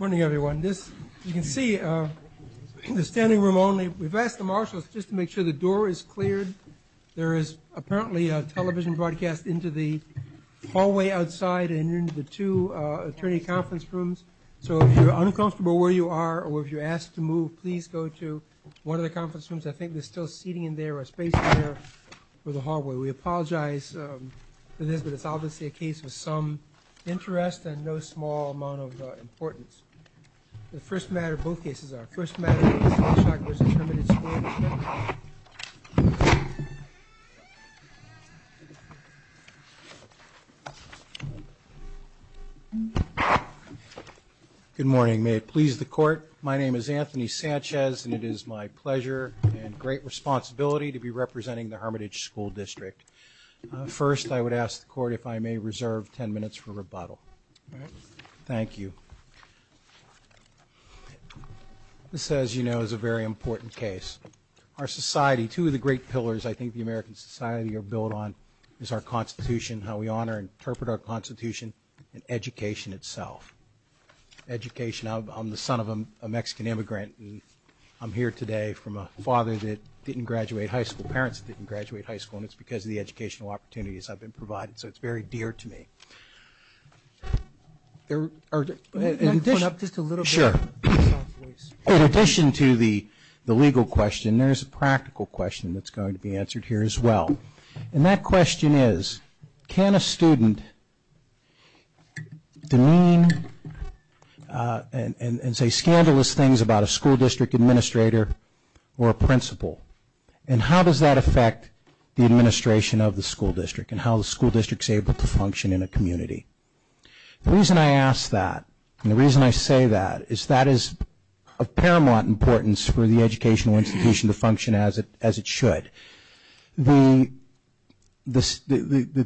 Morning everyone. You can see in the standing room only, we've asked the marshall just to make sure the door is cleared. There is apparently a television broadcast into the hallway outside and into the two attorney conference rooms. So if you're uncomfortable where you are or if you're asked to move, please go to one of the conference rooms. I think there's still seating in there or a space for the hallway. We apologize for this, but it's obviously a case of some interest and no small amount of importance. The first matter of both cases, our first matter is Layshock v. Hermitage. Good morning. May it please the court. My name is Anthony Sanchez and it is my pleasure and great responsibility to be representing the Hermitage School District. First, I would ask the court if I may reserve ten minutes for rebuttal. Thank you. This, as you know, is a very important case. Our society, two of the great pillars I think the American society are built on is our constitution, how we honor and interpret our constitution, and education itself. Education, I'm the son of a Mexican immigrant and I'm here today from a father that didn't graduate high school, parents that didn't graduate high school, and it's because of the educational opportunities I've been provided. So it's very dear to me. In addition to the legal question, there's a practical question that's going to be answered here as well. And that question is, can a student demean and say scandalous things about a school district administrator or principal? And how does that affect the administration of the school district and how the school district is able to function in a community? The reason I ask that and the reason I say that is that is of paramount importance for the educational institution to function as it should. The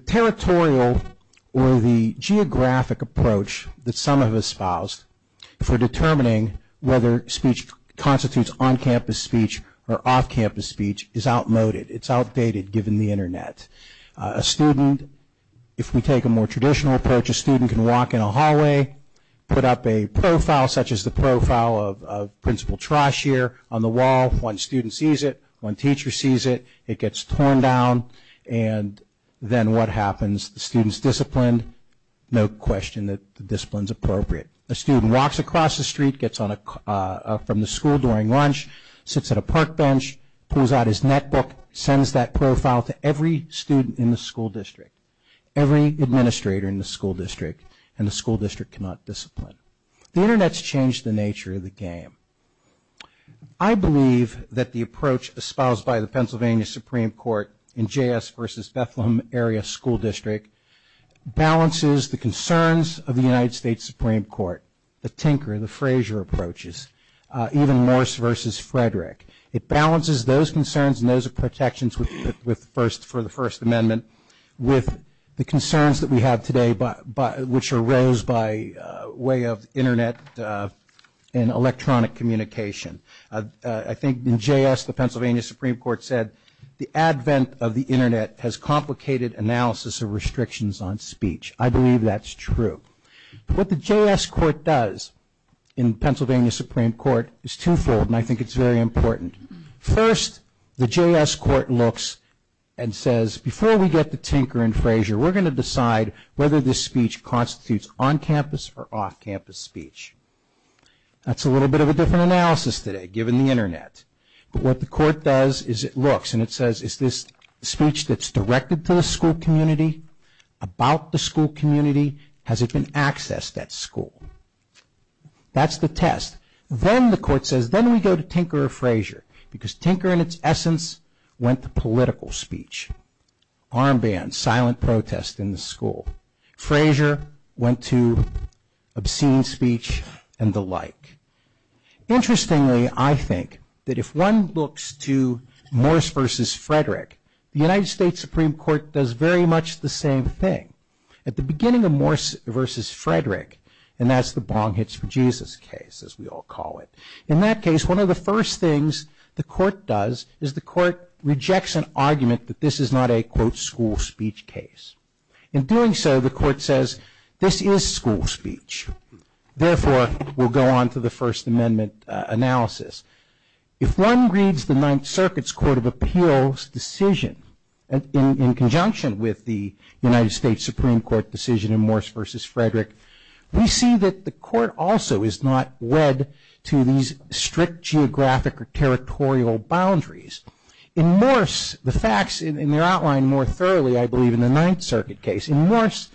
territorial or the geographic approach that some of us spouse for determining whether speech constitutes on-campus speech or off-campus speech is outmoded. It's outdated given the internet. A student, if we take a more traditional approach, a student can walk in a hallway, put up a profile such as the profile of Principal Trosh here on the wall. One student sees it. One teacher sees it. It gets torn down. And then what happens? The student's disciplined. No question that the discipline's appropriate. A student walks across the street, gets up from the school during lunch, sits at a park bench, pulls out his netbook, sends that profile to every student in the school district, every administrator in the school district, and the school district cannot discipline. The internet's changed the nature of the game. I believe that the approach espoused by the Pennsylvania Supreme Court in J.S. v. Bethlehem Area School District balances the concerns of the United States Supreme Court, the Tinker, the Frazier approaches, even Morris v. Frederick. It balances those concerns and those protections for the First Amendment with the concerns that we have today, which arose by way of internet and electronic communication. I think in J.S. the Pennsylvania Supreme Court said the advent of the internet has complicated analysis of restrictions on speech. I believe that's true. What the J.S. Court does in Pennsylvania Supreme Court is twofold, and I think it's very important. First, the J.S. Court looks and says, before we get to Tinker and Frazier, we're going to decide whether this speech constitutes on-campus or off-campus speech. That's a little bit of a different analysis today, given the internet. But what the court does is it looks and it says, is this speech that's directed to the school community, about the school community, has it been accessed at school? That's the test. Then the court says, then we go to Tinker or Frazier, because Tinker in its essence went to political speech. Armbands, silent protest in the school. Frazier went to obscene speech and the like. Interestingly, I think that if one looks to Morris v. Frederick, the United States Supreme Court does very much the same thing. At the beginning of Morris v. Frederick, and that's the bong hits for Jesus case, as we all call it. In that case, one of the first things the court does is the court rejects an argument that this is not a, quote, school speech case. In doing so, the court says, this is school speech. Therefore, we'll go on to the First Amendment analysis. If one reads the Ninth Circuit's Court of Appeals decision in conjunction with the United States Supreme Court decision in Morris v. Frederick, we see that the court also is not wed to these strict geographic or territorial boundaries. In Morris, the facts, and they're outlined more thoroughly, I believe, in the Ninth Circuit case. In Morris,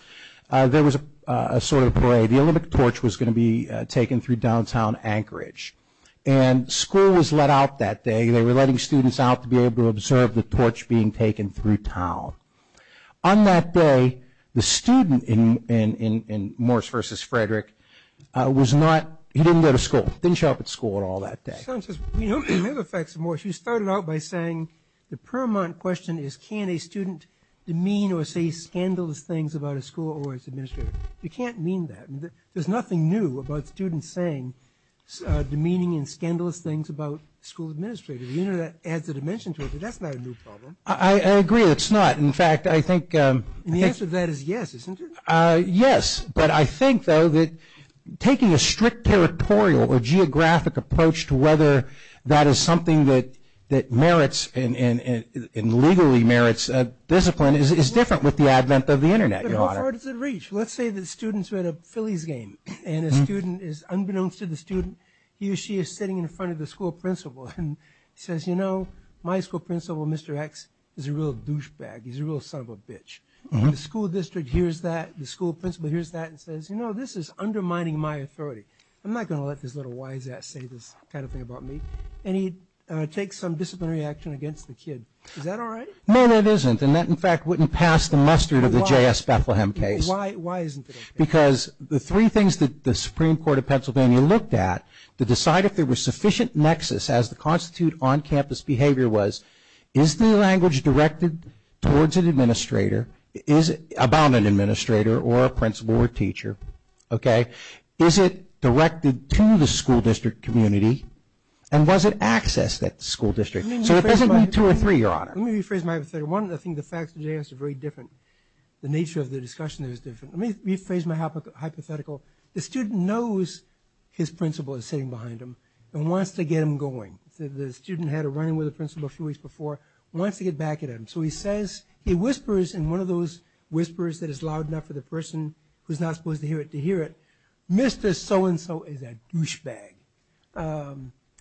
there was a sort of parade. The Olympic Torch was going to be taken through downtown Anchorage. And school was let out that day. They were letting students out to be able to observe the torch being taken through town. On that day, the student in Morris v. Frederick was not, he didn't go to school. He didn't show up at school at all that day. Another fact of Morris, you started out by saying the permanent question is can a student demean or say scandalous things about a school or its administrator. You can't mean that. There's nothing new about students saying demeaning and scandalous things about school administrators. The Internet adds a dimension to it, but that's not a new problem. I agree, it's not. In fact, I think... And the answer to that is yes, isn't it? Yes, but I think, though, that taking a strict territorial or geographic approach to whether that is something that merits and legally merits discipline is different with the advent of the Internet, Your Honor. It's hard to reach. Let's say that students are at a Phillies game and a student is, unbeknownst to the student, he or she is sitting in front of the school principal and says, you know, my school principal, Mr. X, is a real douchebag. He's a real son of a bitch. The school district hears that. The school principal hears that and says, you know, this is undermining my authority. I'm not going to let this little wise-ass say this kind of thing about me. And he takes some disciplinary action against the kid. Is that all right? No, it isn't. And that, in fact, wouldn't pass the mustard of the J.S. Bethlehem case. Why isn't it? Because the three things that the Supreme Court of Pennsylvania looked at to decide if there was sufficient nexus as to constitute on-campus behavior was, is the language directed towards an administrator, is it about an administrator or a principal or a teacher, okay? Is it directed to the school district community and was it accessed at the school district? So it doesn't need two or three, Your Honor. Let me rephrase my hypothetical. One, I think the facts of the J.S. are very different. The nature of the discussion is different. Let me rephrase my hypothetical. The student knows his principal is sitting behind him and wants to get him going. The student had a run-in with the principal a few weeks before and wants to get back at him. So he says, he whispers, and one of those whispers that is loud enough for the person who's not supposed to hear it to hear it, Mr. So-and-so is a douchebag.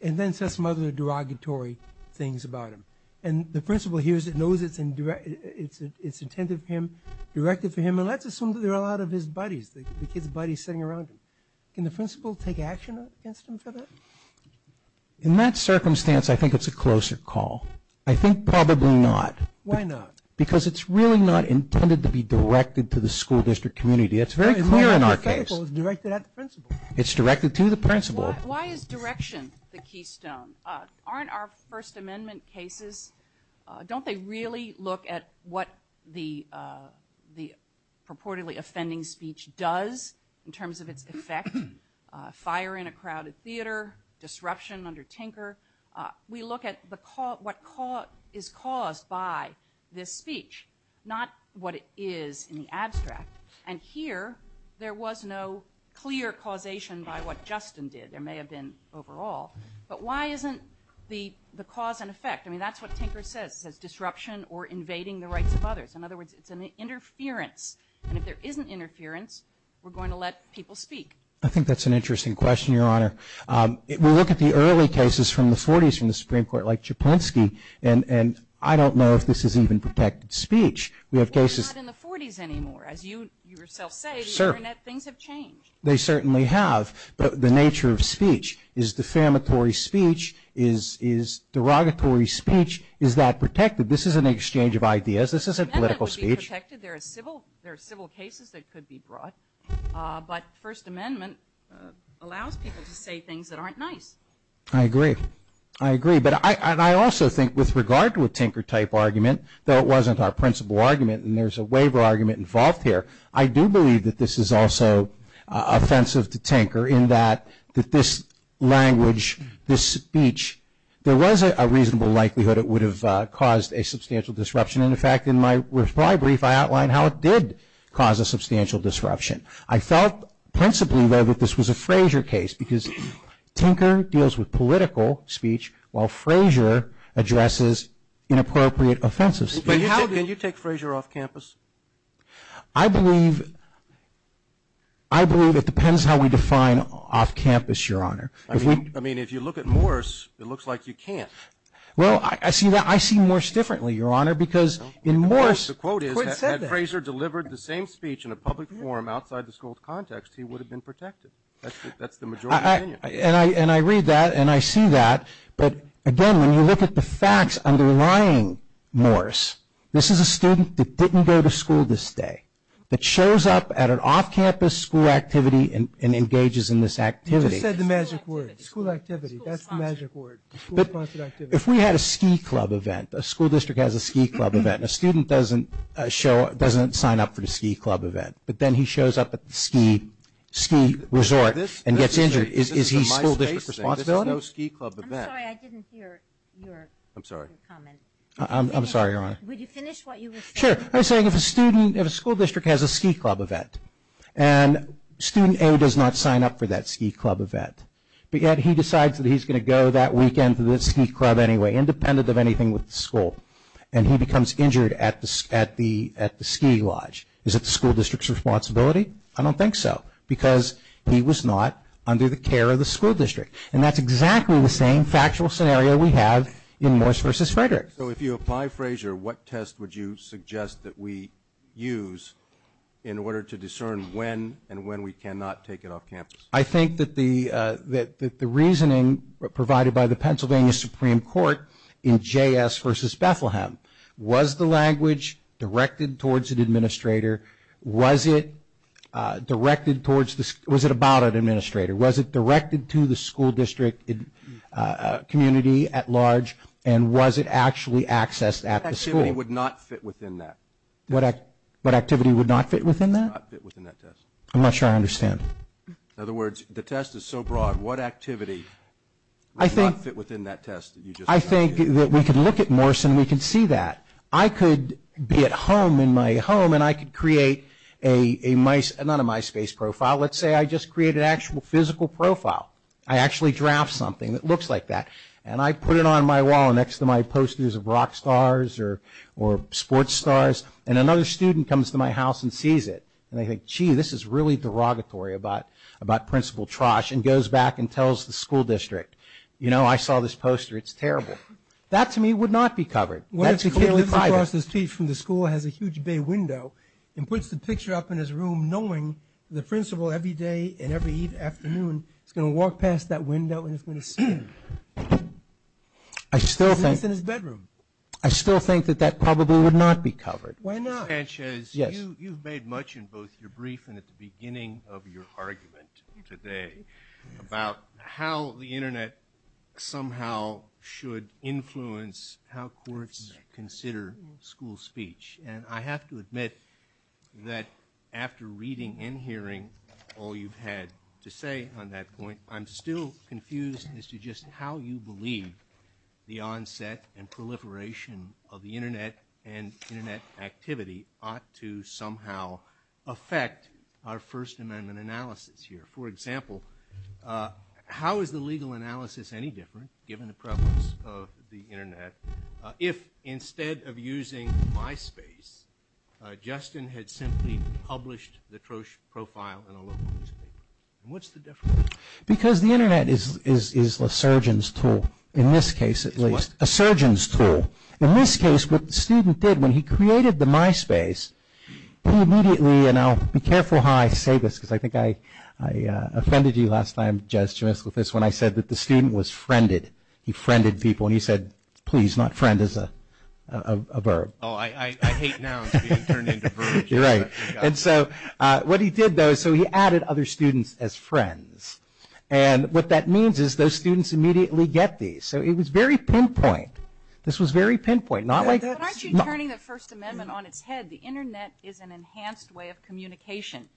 And then says some other derogatory things about him. And the principal hears it, knows it's intended for him, directed for him, and let's assume there are a lot of his buddies, the kid's buddies sitting around him. Can the principal take action against him for that? In that circumstance, I think it's a closer call. I think probably not. Why not? Because it's really not intended to be directed to the school district community. It's very clear in our case. It's directed at the principal. It's directed to the principal. Why is direction the keystone? Aren't our First Amendment cases, don't they really look at what the purportedly offending speech does in terms of its effect? Fire in a crowded theater, disruption under Tinker. We look at what is caused by this speech, not what it is in the abstract. And here, there was no clear causation by what Justin did. There may have been overall. But why isn't the cause and effect? I mean, that's what Tinker says, disruption or invading the rights of others. In other words, it's an interference. And if there isn't interference, we're going to let people speak. I think that's an interesting question, Your Honor. We look at the early cases from the 40s from the Supreme Court, like Jablonski, and I don't know if this is even protected speech. We have cases. Not in the 40s anymore. As you yourself say, things have changed. They certainly have. But the nature of speech is defamatory speech, is derogatory speech. Is that protected? This isn't an exchange of ideas. This isn't political speech. That could be protected. There are civil cases that could be brought. But the First Amendment allows people to say things that aren't nice. I agree. I agree. But I also think with regard to a Tinker-type argument, though it wasn't our principal argument and there's a waiver argument involved here, I do believe that this is also offensive to Tinker in that this language, this speech, there was a reasonable likelihood it would have caused a substantial disruption. In fact, in my reply brief, I outlined how it did cause a substantial disruption. I felt principally, though, that this was a Frazier case because Tinker deals with political speech while Frazier addresses inappropriate offensive speech. But how did you take Frazier off campus? I believe it depends how we define off campus, Your Honor. I mean, if you look at Morse, it looks like you can't. Well, I see Morse differently, Your Honor, because in Morse, the quote is that if Frazier delivered the same speech in a public forum outside the school context, he would have been protected. That's the majority opinion. And I read that and I see that. But, again, when you look at the facts underlying Morse, this is a student that didn't go to school this day, that shows up at an off-campus school activity and engages in this activity. He just said the magic word, school activity. That's the magic word, the school-funded activity. If we had a ski club event, a school district has a ski club event, and a student doesn't sign up for the ski club event, but then he shows up at the ski resort and gets injured, is he school district responsibility? I'm sorry, I didn't hear your comment. I'm sorry, Your Honor. Would you finish what you were saying? Sure. I was saying if a school district has a ski club event and student A does not sign up for that ski club event, but yet he decides that he's going to go that weekend to the ski club anyway, independent of anything with the school, and he becomes injured at the ski lodge, is it the school district's responsibility? I don't think so because he was not under the care of the school district. And that's exactly the same factual scenario we have in Morris v. Frederick. So if you apply Frazier, what test would you suggest that we use in order to discern when and when we cannot take it off campus? I think that the reasoning provided by the Pennsylvania Supreme Court in JS v. Bethlehem, was the language directed towards an administrator? Was it about an administrator? Was it directed to the school district community at large? And was it actually accessed at the school? What activity would not fit within that? What activity would not fit within that? Would not fit within that test. I'm not sure I understand. In other words, the test is so broad, what activity would not fit within that test? I think that we could look at Morris and we could see that. I could be at home in my home and I could create a MySpace profile. Let's say I just create an actual physical profile. I actually draft something that looks like that. And I put it on my wall next to my posters of rock stars or sports stars. And another student comes to my house and sees it. And they think, gee, this is really derogatory about Principal Trosh and goes back and tells the school district, you know, I saw this poster. It's terrible. That to me would not be covered. That's clearly private. And of course the teacher from the school has a huge big window and puts the picture up in his room knowing the principal every day and every afternoon is going to walk past that window and is going to see it. I still think that probably would not be covered. Why not? Frances, you've made much in both your brief and at the beginning of your argument today about how the Internet somehow should influence how courts consider school speech. And I have to admit that after reading and hearing all you've had to say on that point, I'm still confused as to just how you believe the onset and proliferation of the Internet and Internet activity ought to somehow affect our First Amendment analysis here. For example, how is the legal analysis any different, given the prevalence of the Internet, if instead of using MySpace, Justin had simply published the Trosh profile in a local newspaper? What's the difference? Because the Internet is a surgeon's tool, in this case at least. What? A surgeon's tool. In this case what the student did when he created the MySpace, he immediately, and I'll be careful how I say this because I think I offended you last time, Jez, to mess with this, when I said that the student was friended. He friended people and he said, please, not friend as a verb. Oh, I hate now it's being turned into a verb. You're right. And so what he did though, so he added other students as friends. And what that means is those students immediately get these. So it was very pinpoint. This was very pinpoint. But aren't you turning the First Amendment on its head? The Internet is an enhanced way of communication.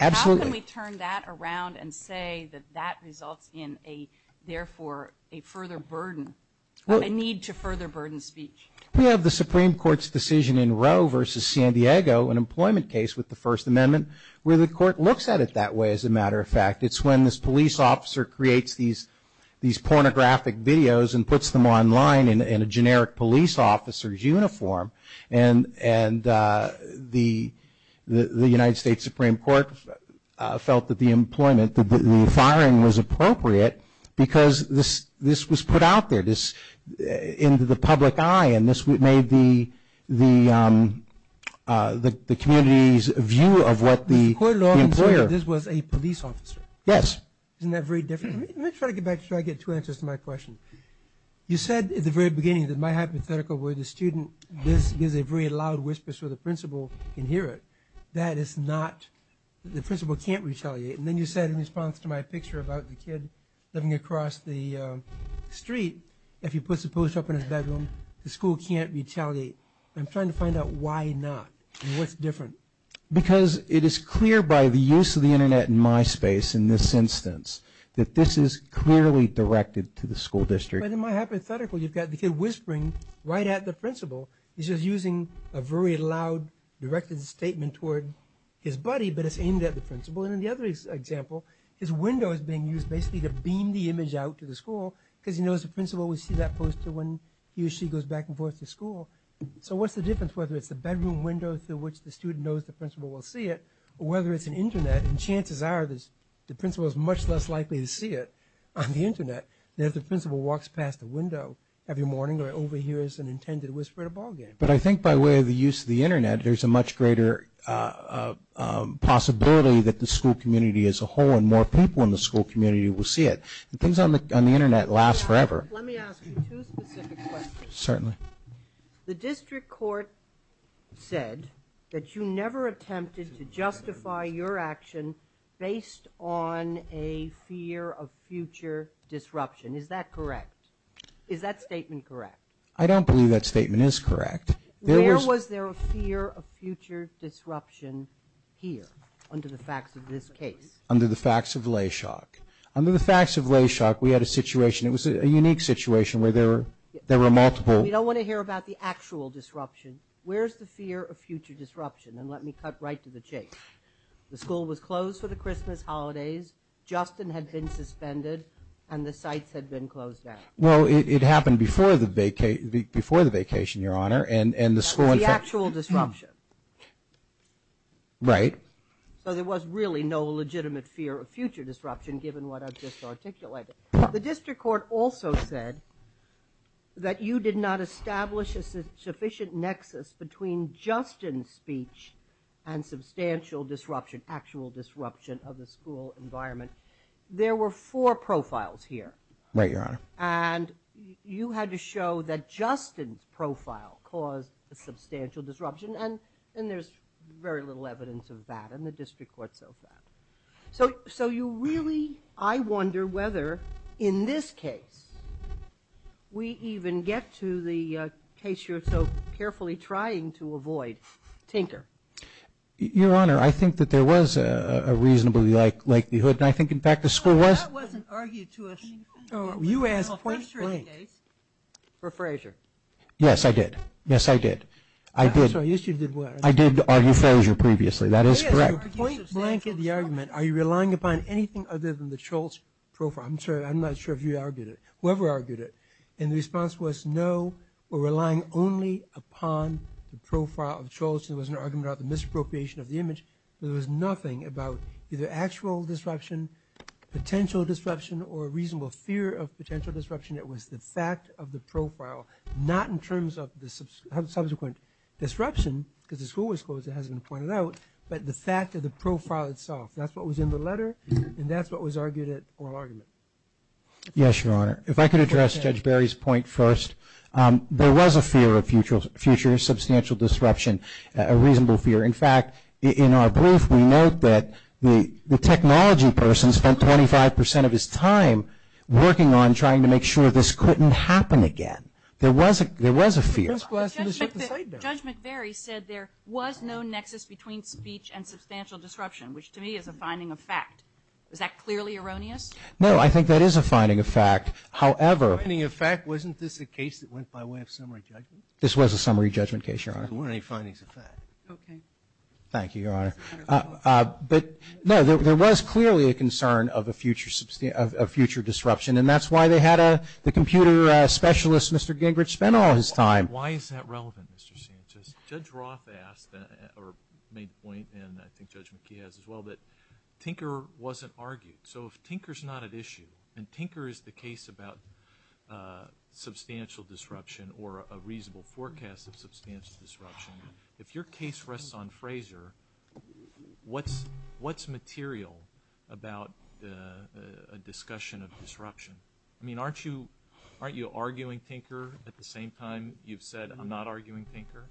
Absolutely. How can we turn that around and say that that results in a, therefore, a further burden, a need to further burden speech? We have the Supreme Court's decision in Roe v. San Diego, an employment case with the First Amendment, where the court looks at it that way, as a matter of fact. It's when this police officer creates these pornographic videos and puts them online in a generic police officer's uniform. And the United States Supreme Court felt that the employment, the firing was appropriate because this was put out there, into the public eye, and this made the community's view of what the employer. The court law ensured this was a police officer. Yes. Isn't that very different? Let me try to get back to try to get two answers to my question. You said at the very beginning, in my hypothetical, where the student gives a very loud whispers so the principal can hear it. That is not, the principal can't retaliate. And then you said in response to my picture about the kid living across the street, if he puts the police off in his bedroom, the school can't retaliate. I'm trying to find out why not. What's different? Because it is clear by the use of the Internet in my space, in this instance, that this is clearly directed to the school district. But in my hypothetical, you've got the kid whispering right at the principal. He's just using a very loud directed statement toward his buddy, but it's aimed at the principal. And in the other example, his window is being used basically to beam the image out to the school because, you know, as a principal, we see that poster when he or she goes back and forth to school. So what's the difference whether it's a bedroom window through which the student knows the principal will see it, or whether it's an Internet, and chances are the principal is much less likely to see it on the Internet than if the principal walks past the window every morning and overhears an intended whisper at a ball game. But I think by way of the use of the Internet, there's a much greater possibility that the school community as a whole and more people in the school community will see it. Things on the Internet last forever. Let me ask you two specific questions. Certainly. The district court said that you never attempted to justify your action based on a fear of future disruption. Is that correct? Is that statement correct? I don't believe that statement is correct. Where was there a fear of future disruption here under the facts of this case? Under the facts of Layshock. Under the facts of Layshock, we had a situation. It was a unique situation where there were multiple. We don't want to hear about the actual disruption. Where's the fear of future disruption? And let me cut right to the chase. The school was closed for the Christmas holidays. Justin had been suspended, and the sites had been closed down. Well, it happened before the vacation, Your Honor, and the school. The actual disruption. Right. So there was really no legitimate fear of future disruption given what I've just articulated. The district court also said that you did not establish a sufficient nexus between Justin's speech and substantial disruption, actual disruption of the school environment. There were four profiles here. Right, Your Honor. And you had to show that Justin's profile caused a substantial disruption, and there's very little evidence of that in the district court so far. So you really, I wonder whether, in this case, we even get to the case you're so carefully trying to avoid, Tinker. Your Honor, I think that there was a reasonable likelihood, and I think, in fact, the school was. That wasn't argued to us. You asked first for Frazier. Yes, I did. Yes, I did. I did argue Frazier previously. That is correct. Point blank in the argument, are you relying upon anything other than the Schultz profile? I'm not sure if you argued it. Whoever argued it. And the response was no, or relying only upon the profile of Schultz. It was an argument about the misappropriation of the image. There was nothing about either actual disruption, potential disruption, or a reasonable fear of potential disruption. It was the fact of the profile, not in terms of the subsequent disruption because the school was closed. It hasn't been pointed out. But the fact of the profile itself. That's what was in the letter, and that's what was argued in the oral argument. Yes, Your Honor. If I could address Judge Barry's point first. There was a fear of future substantial disruption, a reasonable fear. In fact, in our brief, we note that the technology person spent 25% of his time working on trying to make sure this couldn't happen again. There was a fear. Judge Barry said there was no nexus between speech and substantial disruption, which to me is a finding of fact. Is that clearly erroneous? No, I think that is a finding of fact. However. A finding of fact? Wasn't this a case that went by way of summary judgment? This was a summary judgment case, Your Honor. There weren't any findings of fact. Okay. Thank you, Your Honor. But no, there was clearly a concern of a future disruption, and that's why they had the computer specialist, Mr. Gingrich, spend all his time. Why is that relevant, Mr. Sanchez? Judge Roth made a point, and I think Judge McKee has as well, that Tinker wasn't argued. So if Tinker is not at issue, and Tinker is the case about substantial disruption or a reasonable forecast of substantial disruption, if your case rests on Fraser, what's material about a discussion of disruption? I mean, aren't you arguing Tinker at the same time you've said I'm not arguing Tinker?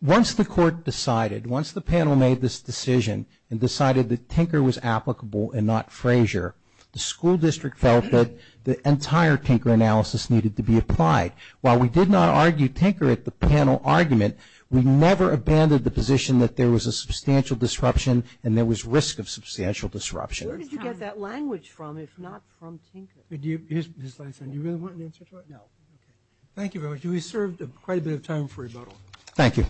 Once the court decided, once the panel made this decision and decided that Tinker was applicable and not Fraser, the school district felt that the entire Tinker analysis needed to be applied. While we did not argue Tinker at the panel argument, we never abandoned the position that there was a substantial disruption and there was risk of substantial disruption. Mr. Sanchez, do you really want an answer right now? Thank you very much. We've served quite a bit of time for you. Thank you.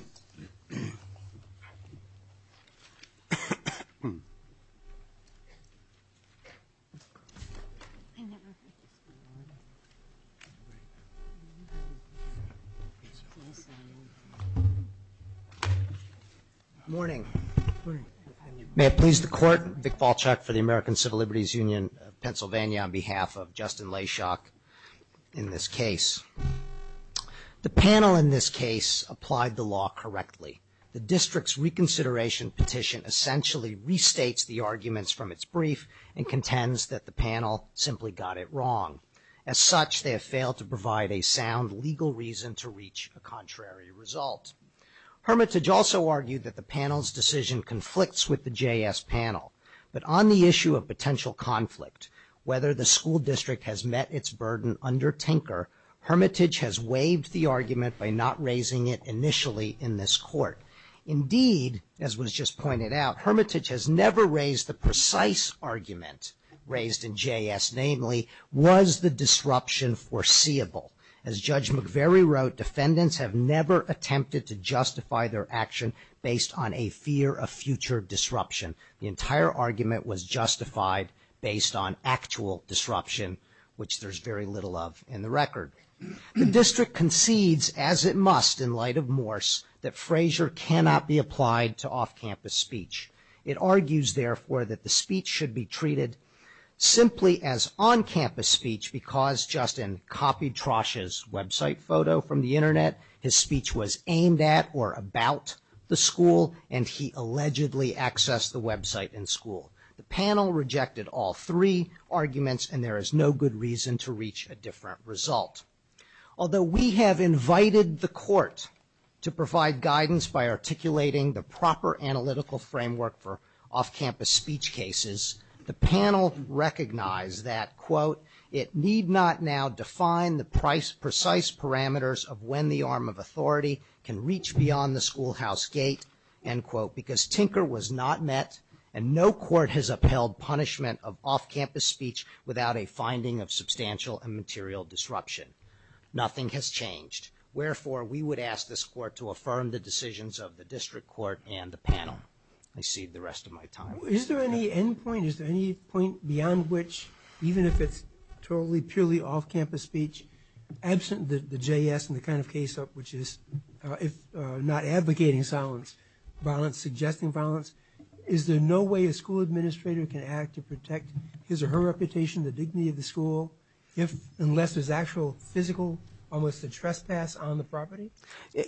Good morning. May it please the court, Vic Balchuk for the American Civil Liberties Union, Pennsylvania, on behalf of Justin Leshock in this case. The panel in this case applied the law correctly. The district's reconsideration petition essentially restates the arguments from its brief and contends that the panel simply got it wrong. As such, they have failed to provide a sound legal reason to reach a contrary result. Hermitage also argued that the panel's decision conflicts with the JS panel. But on the issue of potential conflict, whether the school district has met its burden under Tinker, Hermitage has waived the argument by not raising it initially in this court. Indeed, as was just pointed out, Hermitage has never raised the precise argument raised in JS, namely, was the disruption foreseeable? As Judge McVeary wrote, defendants have never attempted to justify their action based on a fear of future disruption. The entire argument was justified based on actual disruption, which there's very little of in the record. The district concedes, as it must in light of Morse, that Frazier cannot be applied to off-campus speech. It argues, therefore, that the speech should be treated simply as on-campus speech because Justin copied Trosh's website photo from the internet. His speech was aimed at or about the school, and he allegedly accessed the website in school. The panel rejected all three arguments, and there is no good reason to reach a different result. Although we have invited the court to provide guidance by articulating the proper analytical framework for off-campus speech cases, the panel recognized that, quote, it need not now define the precise parameters of when the arm of authority can reach beyond the schoolhouse gate, end quote, because tinker was not met, and no court has upheld punishment of off-campus speech without a finding of substantial and material disruption. Nothing has changed. Wherefore, we would ask this court to affirm the decisions of the district court and the panel. Let me see the rest of my time. Is there any end point? Is there any point beyond which, even if it's totally, purely off-campus speech, absent the JS and the kind of case which is not advocating silence, but suggesting violence, is there no way a school administrator can act to protect his or her reputation, the dignity of the school, unless there's actual physical, almost a trespass on the property?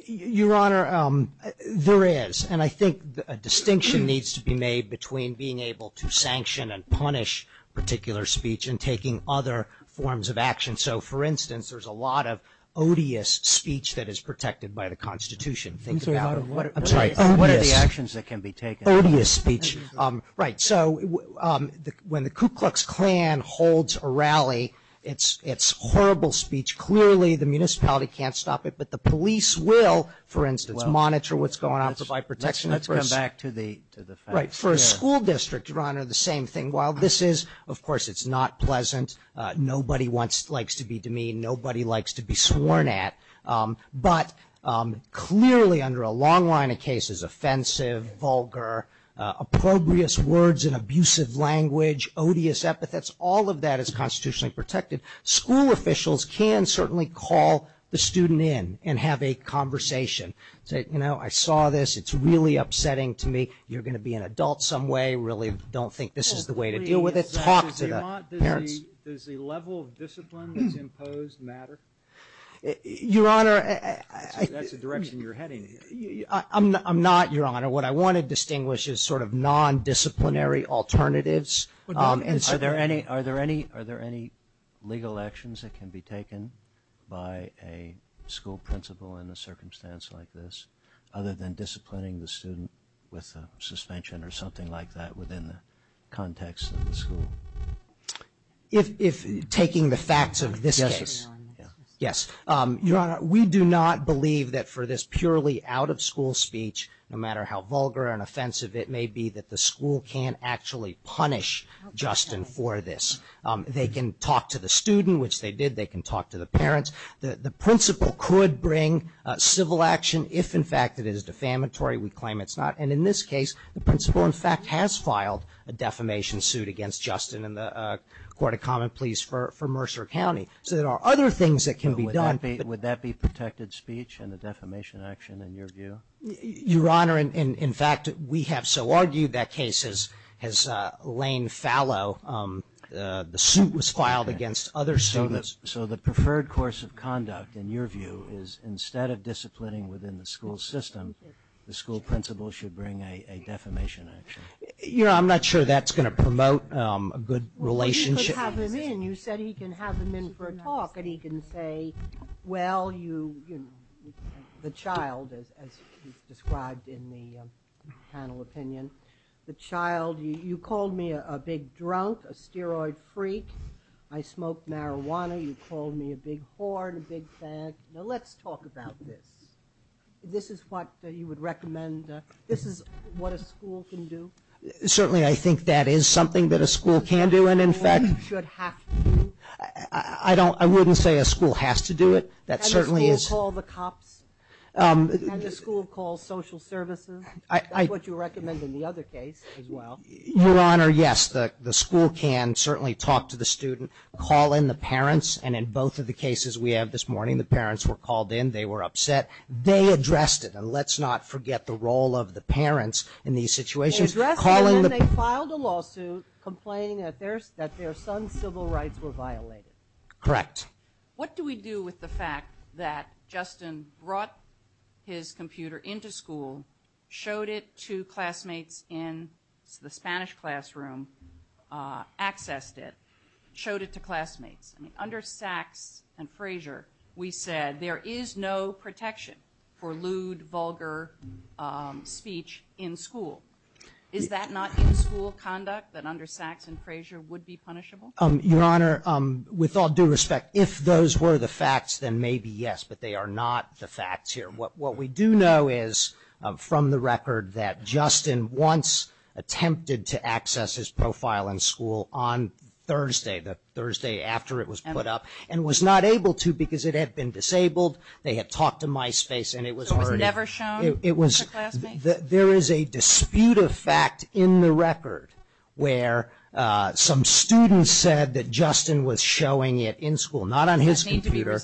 Your Honor, there is, and I think a distinction needs to be made between being able to sanction and punish particular speech and taking other forms of action. So, for instance, there's a lot of odious speech that is protected by the Constitution. Think about it. I'm sorry, what are the actions that can be taken? Odious speech. Right, so when the Ku Klux Klan holds a rally, it's horrible speech. Clearly, the municipality can't stop it, but the police will, for instance, monitor what's going on, provide protection. Let's come back to the facts. Right, for a school district, Your Honor, the same thing. While this is, of course, it's not pleasant, nobody likes to be demeaned, nobody likes to be sworn at, but clearly under a long line of cases, offensive, vulgar, opprobrious words in abusive language, odious epithets, all of that is constitutionally protected. School officials can certainly call the student in and have a conversation. Say, you know, I saw this. It's really upsetting to me. You're going to be an adult some way, really don't think this is the way to deal with it. Talk to the parents. Does the level of discipline that's imposed matter? Your Honor. That's the direction you're heading. I'm not, Your Honor. What I want to distinguish is sort of non-disciplinary alternatives. Are there any legal actions that can be taken by a school principal in a circumstance like this, other than disciplining the student with a suspension or something like that within the context of the school? If taking the facts of this case. Yes. Your Honor, we do not believe that for this purely out-of-school speech, no matter how vulgar and offensive it may be, that the school can't actually punish Justin for this. They can talk to the student, which they did. They can talk to the parents. The principal could bring civil action if, in fact, it is defamatory. We claim it's not. And in this case, the principal, in fact, has filed a defamation suit against Justin in the Court of Common Pleas for Mercer County. So there are other things that can be done. Would that be protected speech and the defamation action in your view? Your Honor, in fact, we have so argued that case, as Elaine Fallow, the suit was filed against other students. So the preferred course of conduct, in your view, is instead of disciplining within the school system, the school principal should bring a defamation action? You know, I'm not sure that's going to promote a good relationship. Well, you could have him in. And he can say, well, you know, the child, as he described in the panel opinion, the child, you called me a big drunk, a steroid freak. I smoked marijuana. You called me a big whore and a big fag. Now, let's talk about this. This is what you would recommend? This is what a school can do? Certainly, I think that is something that a school can do. And in fact, I wouldn't say a school has to do it. That certainly is. Can the school call the cops? Can the school call social services? That's what you recommend in the other case as well. Your Honor, yes, the school can certainly talk to the student, call in the parents. And in both of the cases we have this morning, the parents were called in. They were upset. They addressed it. And let's not forget the role of the parents in these situations. They filed a lawsuit complaining that their son's civil rights were violated. Correct. What do we do with the fact that Justin brought his computer into school, showed it to classmates in the Spanish classroom, accessed it, showed it to classmates? Under Sachs and Frazier, we said there is no protection for lewd, vulgar speech in school. Is that not in school conduct that under Sachs and Frazier would be punishable? Your Honor, with all due respect, if those were the facts, then maybe yes, but they are not the facts here. What we do know is from the record that Justin once attempted to access his profile in school on Thursday, the Thursday after it was put up, and was not able to because it had been disabled. They had talked to MySpace and it was burning. So it was never shown to classmates? There is a dispute of fact in the record where some students said that Justin was showing it in school, not on his computer.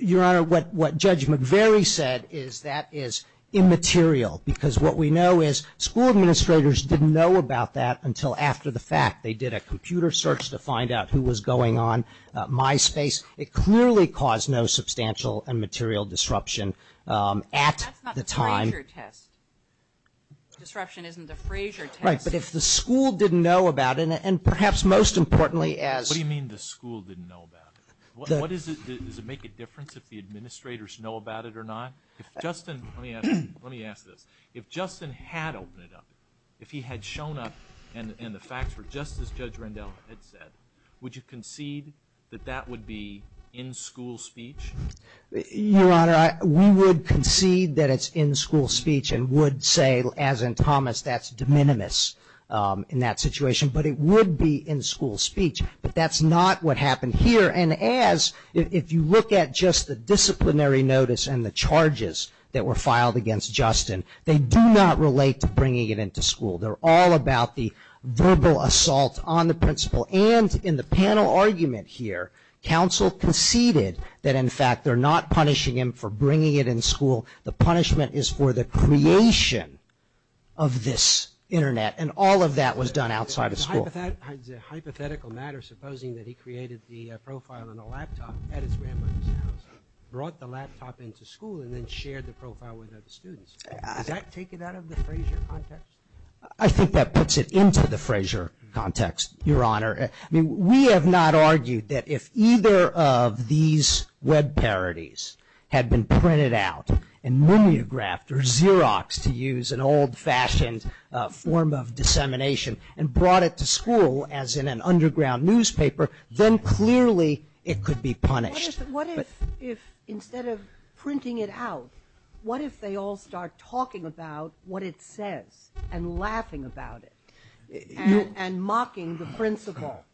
Your Honor, what Judge McVeary said is that is immaterial because what we know is the school administrators didn't know about that until after the fact. They did a computer search to find out who was going on MySpace. It clearly caused no substantial and material disruption at the time. That's not the Frazier test. Disruption isn't the Frazier test. Right, but if the school didn't know about it, and perhaps most importantly as… What do you mean the school didn't know about it? Does it make a difference if the administrators know about it or not? Let me ask this. If Justin had opened it up, if he had shown up and the facts were just as Judge Rendell had said, would you concede that that would be in-school speech? Your Honor, we would concede that it's in-school speech and would say, as in Thomas, that's de minimis in that situation. But it would be in-school speech, but that's not what happened here. If you look at just the disciplinary notice and the charges that were filed against Justin, they do not relate to bringing it into school. They're all about the verbal assault on the principal. And in the panel argument here, counsel conceded that, in fact, they're not punishing him for bringing it in school. The punishment is for the creation of this Internet, and all of that was done outside of school. The hypothetical matter, supposing that he created the profile on the laptop at his grandmother's house, brought the laptop into school, and then shared the profile with other students, does that take it out of the Frasier context? I think that puts it into the Frasier context, Your Honor. I mean, we have not argued that if either of these web parodies had been printed out and mimeographed or Xeroxed to use an old-fashioned form of dissemination and brought it to school as in an underground newspaper, then clearly it could be punished. What if, instead of printing it out, what if they all start talking about what it says and laughing about it and mocking the principal?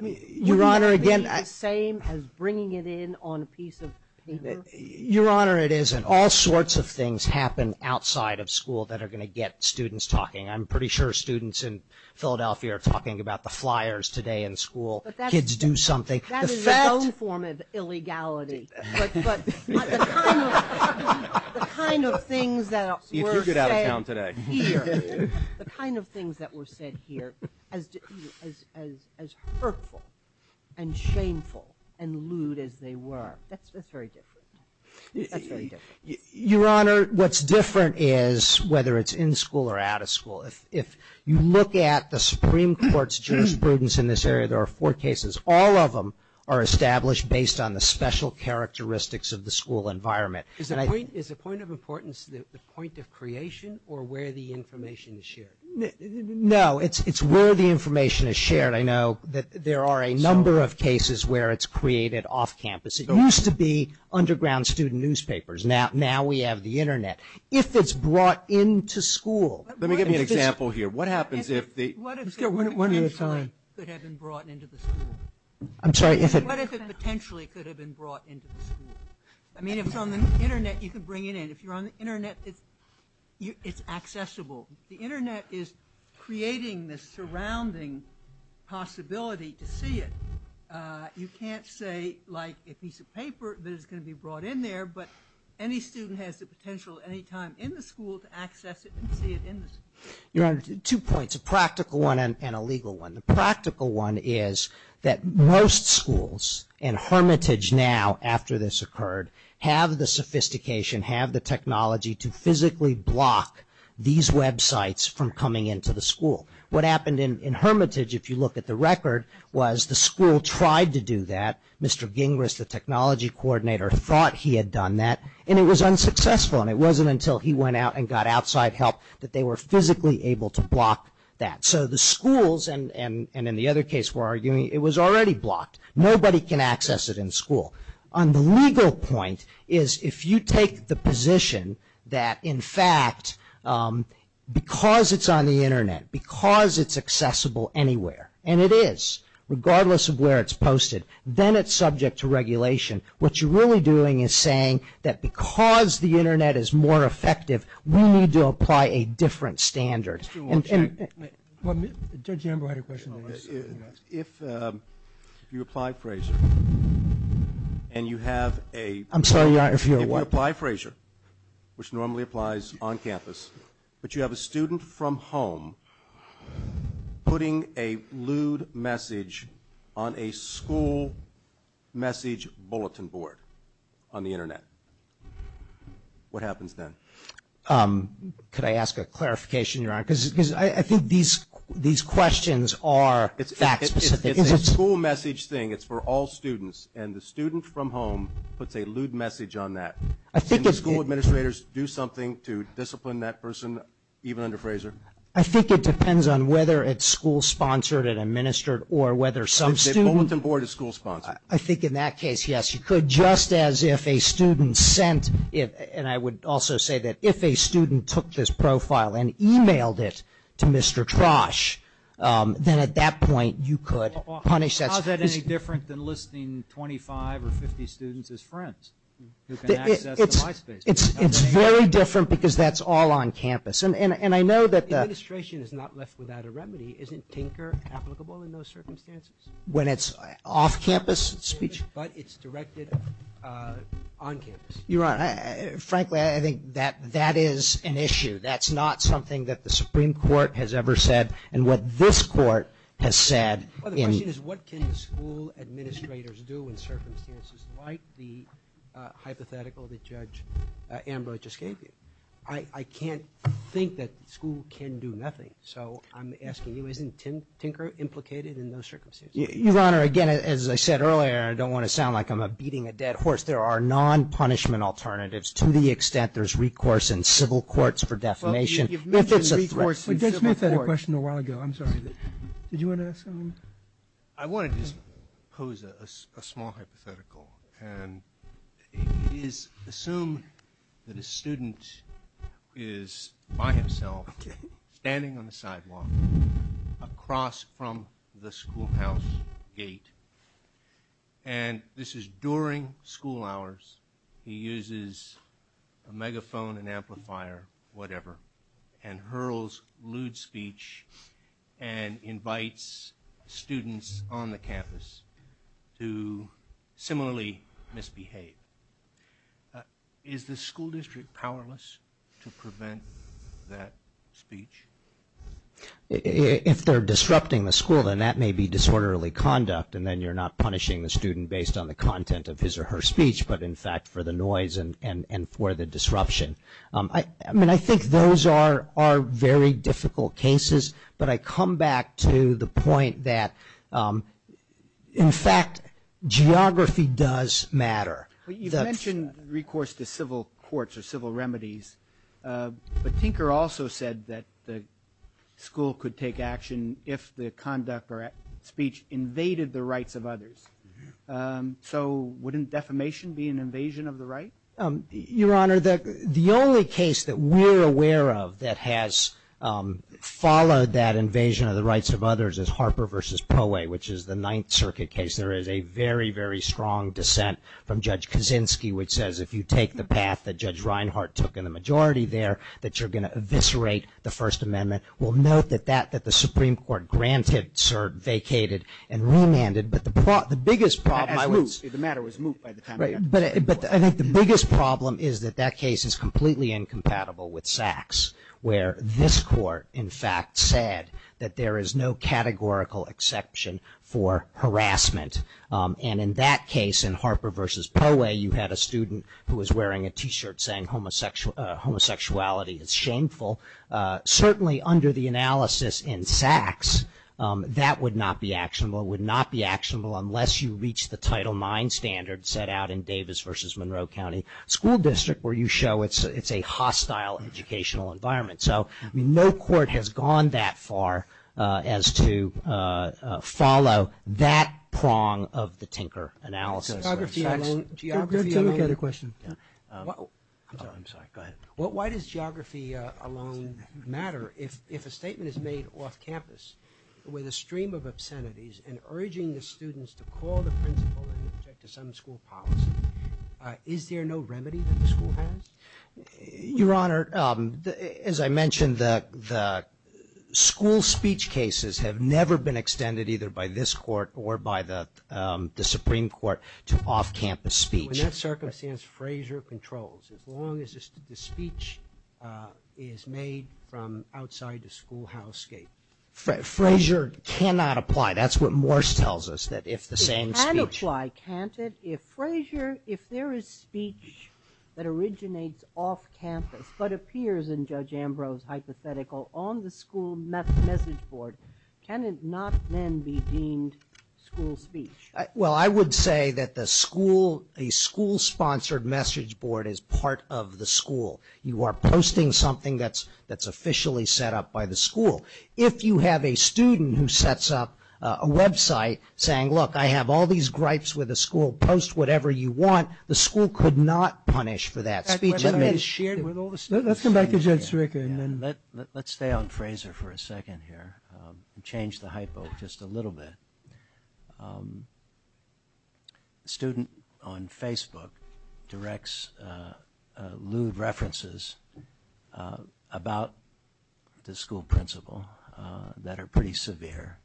Your Honor, again... Would it be the same as bringing it in on a piece of paper? Your Honor, it isn't. All sorts of things happen outside of school that are going to get students talking. I'm pretty sure students in Philadelphia are talking about the flyers today in school. Kids do something. That is its own form of illegality. The kind of things that were said here, as hurtful and shameful and lewd as they were, that's very different. Your Honor, what's different is whether it's in school or out of school. If you look at the Supreme Court's jurisprudence in this area, there are four cases. All of them are established based on the special characteristics of the school environment. Is the point of importance the point of creation or where the information is shared? No, it's where the information is shared. I know that there are a number of cases where it's created off-campus. It used to be underground student newspapers. Now we have the Internet. If it's brought into school... Let me give you an example here. What happens if the... What if it potentially could have been brought into the school? I'm sorry, if it... What if it potentially could have been brought into the school? I mean, if it's on the Internet, you can bring it in. If you're on the Internet, it's accessible. The Internet is creating this surrounding possibility to see it. You can't say, like, a piece of paper that is going to be brought in there, but any student has the potential any time in the school to access it and see it in the school. You're on two points, a practical one and a legal one. The practical one is that most schools, and Hermitage now after this occurred, have the sophistication, have the technology to physically block these websites from coming into the school. What happened in Hermitage, if you look at the record, was the school tried to do that. Mr. Gingras, the technology coordinator, thought he had done that, and it was unsuccessful, and it wasn't until he went out and got outside help that they were physically able to block that. So the schools, and in the other case we're arguing, it was already blocked. Nobody can access it in school. On the legal point is if you take the position that, in fact, because it's on the Internet, because it's accessible anywhere, and it is, regardless of where it's posted, then it's subject to regulation. What you're really doing is saying that because the Internet is more effective, we need to apply a different standard. Judge Amber, I had a question. If you apply Frasier, and you have a... I'm sorry, if you're what? If you apply Frasier, which normally applies on campus, but you have a student from home putting a lewd message on a school message bulletin board on the Internet, what happens then? Could I ask a clarification here? Because I think these questions are fact specific. It's a school message thing. It's for all students, and the student from home puts a lewd message on that. Can the school administrators do something to discipline that person, even under Frasier? I think it depends on whether it's school-sponsored and administered or whether some student... The bulletin board is school-sponsored. I think in that case, yes, you could, just as if a student sent it, and I would also say that if a student took this profile and emailed it to Mr. Trosh, then at that point you could punish that. How is that any different than listing 25 or 50 students as friends? It's very different because that's all on campus, and I know that... The administration is not left without a remedy. Isn't tinker applicable in those circumstances? When it's off-campus speech? But it's directed on campus. You're right. Frankly, I think that that is an issue. That's not something that the Supreme Court has ever said, and what this court has said... Well, the question is what can school administrators do in circumstances like the hypothetical that Judge Ambrose just gave me? I can't think that school can do nothing, so I'm asking you, isn't tinker implicated in those circumstances? Your Honor, again, as I said earlier, I don't want to sound like I'm beating a dead horse. There are non-punishment alternatives to the extent there's recourse in civil courts for defamation. You've mentioned recourse in civil courts. I'm sorry. Did you want to ask something? I wanted to pose a small hypothetical, and it is assumed that a student is by himself standing on the sidewalk across from the schoolhouse gate. And this is during school hours. He uses a megaphone, an amplifier, whatever, and hurls lewd speech and invites students on the campus to similarly misbehave. Is the school district powerless to prevent that speech? If they're disrupting the school, then that may be disorderly conduct, and then you're not punishing the student based on the content of his or her speech but, in fact, for the noise and for the disruption. I mean, I think those are very difficult cases, but I come back to the point that, in fact, geography does matter. You mentioned recourse to civil courts or civil remedies, but Tinker also said that the school could take action if the conduct or speech invaded the rights of others. So wouldn't defamation be an invasion of the rights? Your Honor, the only case that we're aware of that has followed that invasion of the rights of others is Harper v. Poeh, which is the Ninth Circuit case. There is a very, very strong dissent from Judge Kaczynski, which says if you take the path that Judge Reinhart took in the majority there, that you're going to eviscerate the First Amendment. We'll note that the Supreme Court granted, vacated, and remanded, but the biggest problem is that that case is completely incompatible with Sachs, where this court, in fact, said that there is no categorical exception for harassment. And in that case, in Harper v. Poeh, you had a student who was wearing a T-shirt saying homosexuality is shameful. Certainly, under the analysis in Sachs, that would not be actionable. Unless you reach the Title IX standard set out in Davis v. Monroe County School District, where you show it's a hostile educational environment. So no court has gone that far as to follow that prong of the Tinker analysis. Why does geography alone matter if a statement is made off campus with a stream of obscenities and urging the students to call the principal and object to some school policy? Is there no remedy to the school policy? Your Honor, as I mentioned, the school speech cases have never been extended either by this court or by the Supreme Court to off-campus speech. In that circumstance, Frazier controls, as long as the speech is made from outside the school house gate. Frazier cannot apply. That's what Morse tells us. It can apply, can't it? If there is speech that originates off-campus but appears in Judge Ambrose's hypothetical on the school message board, can it not then be deemed school speech? Well, I would say that the school-sponsored message board is part of the school. You are posting something that's officially set up by the school. If you have a student who sets up a website saying, look, I have all these gripes with the school, post whatever you want, the school could not punish for that speech. Let's come back to Judge Sirico. Let's stay on Frazier for a second here and change the hypo just a little bit. A student on Facebook directs lewd references about the school principal that are pretty severe.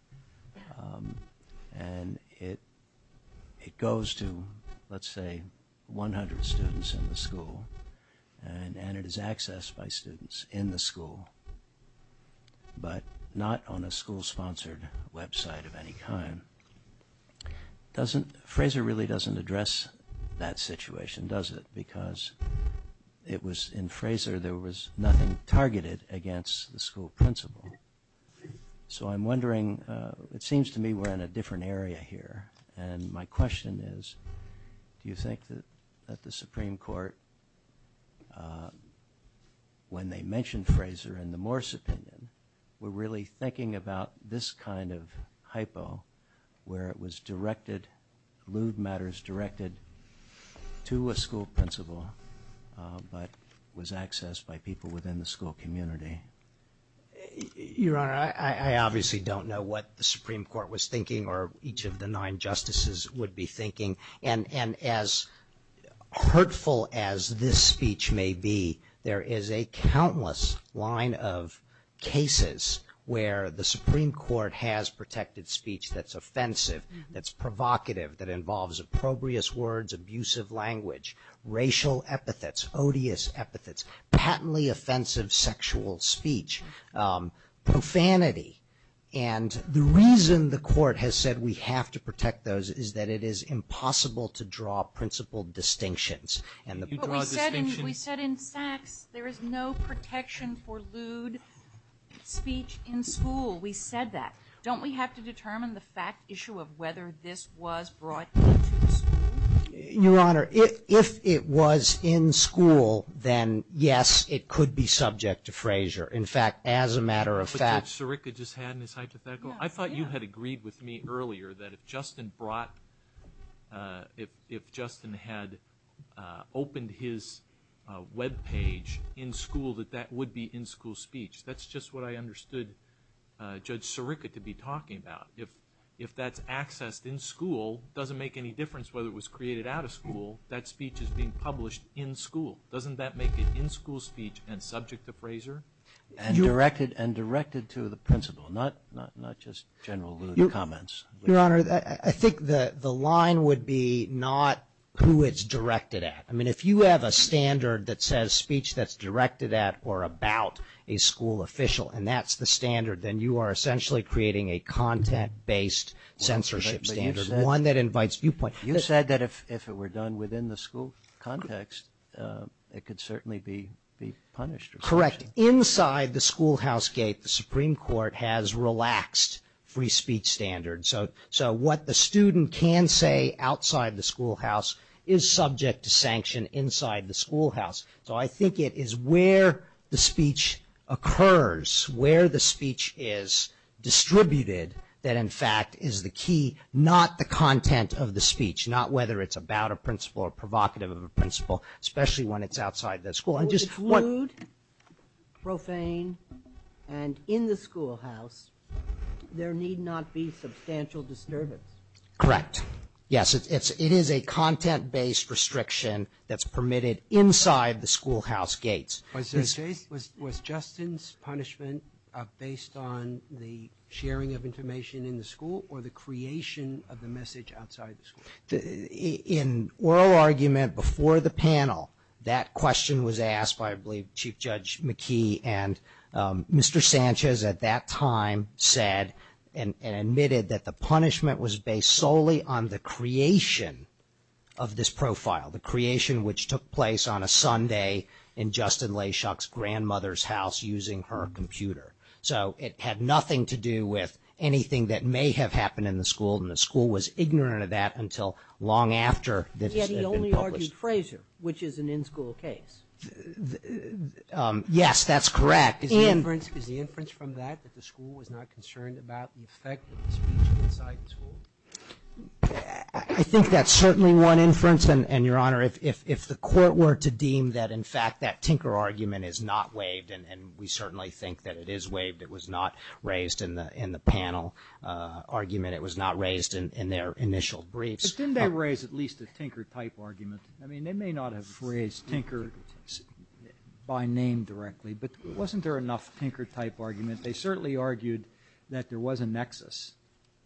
And it goes to, let's say, 100 students in the school. And it is accessed by students in the school, but not on a school-sponsored website of any kind. Frazier really doesn't address that situation, does it? Because in Frazier there was nothing targeted against the school principal. So I'm wondering, it seems to me we're in a different area here. And my question is, do you think that the Supreme Court, when they mentioned Frazier in the Morse opinion, were really thinking about this kind of hypo where it was directed, lewd matters directed to a school principal, but was accessed by people within the school community? Your Honor, I obviously don't know what the Supreme Court was thinking or each of the nine justices would be thinking. And as hurtful as this speech may be, there is a countless line of cases where the Supreme Court has protected speech that's offensive, that's provocative, that involves opprobrious words, abusive language, racial epithets, odious epithets, patently offensive sexual speech, profanity. And the reason the court has said we have to protect those is that it is impossible to draw principal distinctions. We said in fact there is no protection for lewd speech in school. We said that. Don't we have to determine the fact issue of whether this was brought to the school? Your Honor, if it was in school, then yes, it could be subject to Frazier. In fact, as a matter of fact… But Judge Sirica just had in his hypothetical. I thought you had agreed with me earlier that if Justin had opened his web page in school that that would be in school speech. That's just what I understood Judge Sirica to be talking about. If that's accessed in school, it doesn't make any difference whether it was created out of school. That speech is being published in school. Doesn't that make it in school speech and subject to Frazier? And directed to the principal, not just general lewd comments. Your Honor, I think the line would be not who it's directed at. I mean if you have a standard that says speech that's directed at or about a school official and that's the standard, then you are essentially creating a content-based censorship standard. One that invites viewpoint. You said that if it were done within the school context, it could certainly be punished. Correct. Inside the schoolhouse gate, the Supreme Court has relaxed free speech standards. So what the student can say outside the schoolhouse is subject to sanction inside the schoolhouse. So I think it is where the speech occurs, where the speech is distributed, that in fact is the key, not the content of the speech, not whether it's about a principal or provocative of a principal, especially when it's outside the school. If it's lewd, profane, and in the schoolhouse, there need not be substantial disturbance. Correct. Yes, it is a content-based restriction that's permitted inside the schoolhouse gates. Was Justin's punishment based on the sharing of information in the school or the creation of the message outside the school? In oral argument before the panel, that question was asked by I believe Chief Judge McKee and Mr. Sanchez at that time said and admitted that the punishment was based solely on the creation of this profile, the creation which took place on a Sunday in Justin Layshock's grandmother's house using her computer. So it had nothing to do with anything that may have happened in the school and the school was ignorant of that until long after this had been published. Yet he only argued Frazier, which is an in-school case. Yes, that's correct. Is the inference from that that the school was not concerned about the effect of the speech inside the school? I think that's certainly one inference and, Your Honor, if the court were to deem that in fact that tinker argument is not waived and we certainly think that it is waived, it was not raised in the panel argument, it was not raised in their initial briefs. But didn't they raise at least a tinker-type argument? I mean, they may not have raised tinker by name directly, but wasn't there enough tinker-type argument? They certainly argued that there was a nexus.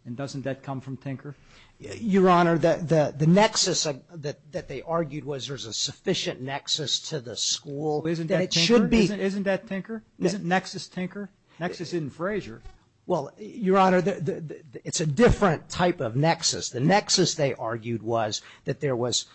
And doesn't that come from tinker? Your Honor, the nexus that they argued was there's a sufficient nexus to the school. Isn't that tinker? Isn't that tinker? Isn't nexus tinker? Nexus isn't Frazier. Well, Your Honor, it's a different type of nexus. The nexus they argued was that there was,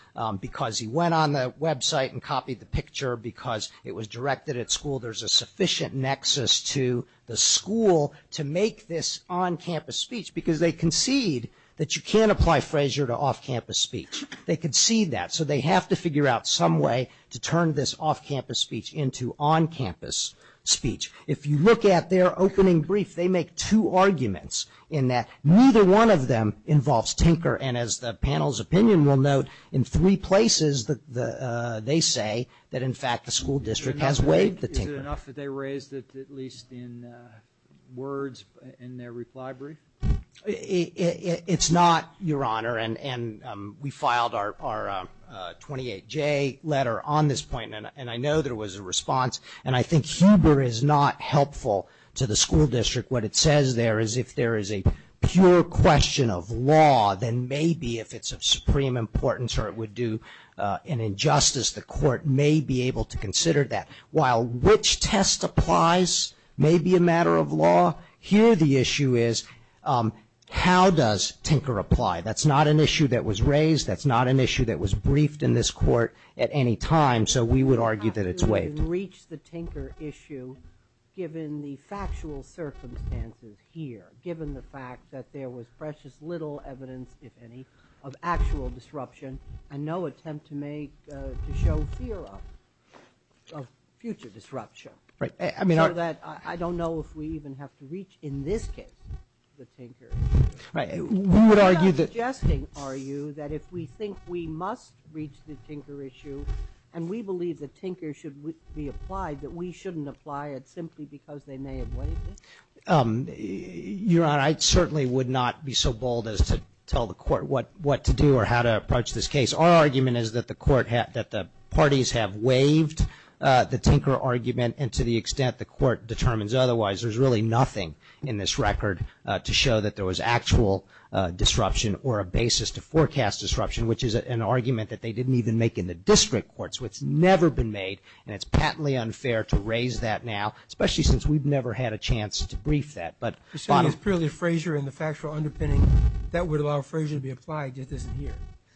because he went on the website and copied the picture because it was directed at school, there's a sufficient nexus to the school to make this on-campus speech because they concede that you can't apply Frazier to off-campus speech. They concede that. So they have to figure out some way to turn this off-campus speech into on-campus speech. If you look at their opening brief, they make two arguments in that neither one of them involves tinker, and as the panel's opinion will note, in three places they say that, in fact, the school district has waived the tinker. Is it enough that they raised it at least in words in their reply brief? It's not, Your Honor, and we filed our 28-J letter on this point, and I know there was a response, and I think Huber is not helpful to the school district. What it says there is if there is a pure question of law, then maybe if it's of supreme importance or it would do an injustice, the court may be able to consider that. While which test applies may be a matter of law, here the issue is how does tinker apply. That's not an issue that was raised. That's not an issue that was briefed in this court at any time, so we would argue that it's waived. We can reach the tinker issue given the factual circumstances here, given the fact that there was precious little evidence, if any, of actual disruption and no attempt to show fear of future disruption. I don't know if we even have to reach, in this case, the tinker issue. I'm suggesting, are you, that if we think we must reach the tinker issue and we believe the tinker should be applied, that we shouldn't apply it simply because they may have waived it? Your Honor, I certainly would not be so bold as to tell the court what to do or how to approach this case. Our argument is that the parties have waived the tinker argument and to the extent the court determines otherwise, there's really nothing in this record to show that there was actual disruption or a basis to forecast disruption, which is an argument that they didn't even make in the district courts. It's never been made, and it's patently unfair to raise that now, especially since we've never had a chance to brief that. So, it's clearly Frazier and the factual underpinning that would allow Frazier to be applied.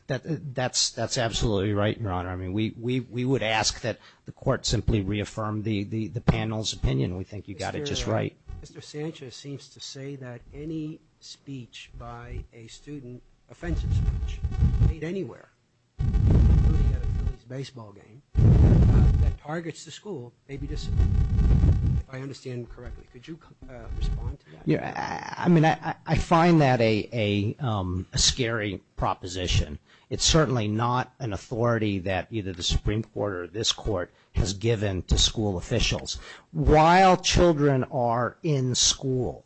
That's absolutely right, Your Honor. We would ask that the court simply reaffirm the panel's opinion. We think you got it just right. Mr. Sanchez seems to say that any speech by a student, offensive speech, anywhere, including at a baseball game, that targets the school may be disappointing, if I understand correctly. Could you respond to that? I mean, I find that a scary proposition. It's certainly not an authority that either the Supreme Court or this court has given to school officials. While children are in school,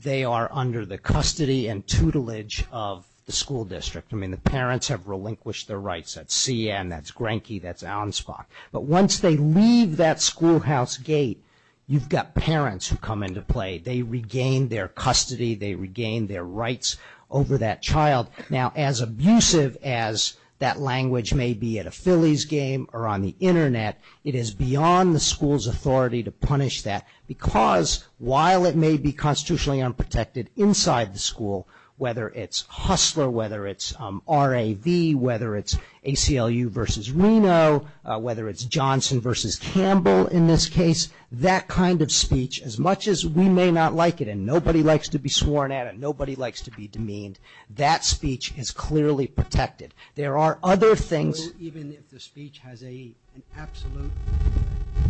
they are under the custody and tutelage of the school district. I mean, the parents have relinquished their rights. That's CN, that's Granke, that's Ansbach. But once they leave that schoolhouse gate, you've got parents who come into play. They regain their custody. They regain their rights over that child. Now, as abusive as that language may be at a Phillies game or on the Internet, it is beyond the school's authority to punish that, because while it may be constitutionally unprotected inside the school, whether it's Hustler, whether it's RAV, whether it's ACLU versus Reno, whether it's Johnson versus Campbell in this case, that kind of speech, as much as we may not like it and nobody likes to be sworn at it, nobody likes to be demeaned, that speech is clearly protected. There are other things. Even if the speech has an absolute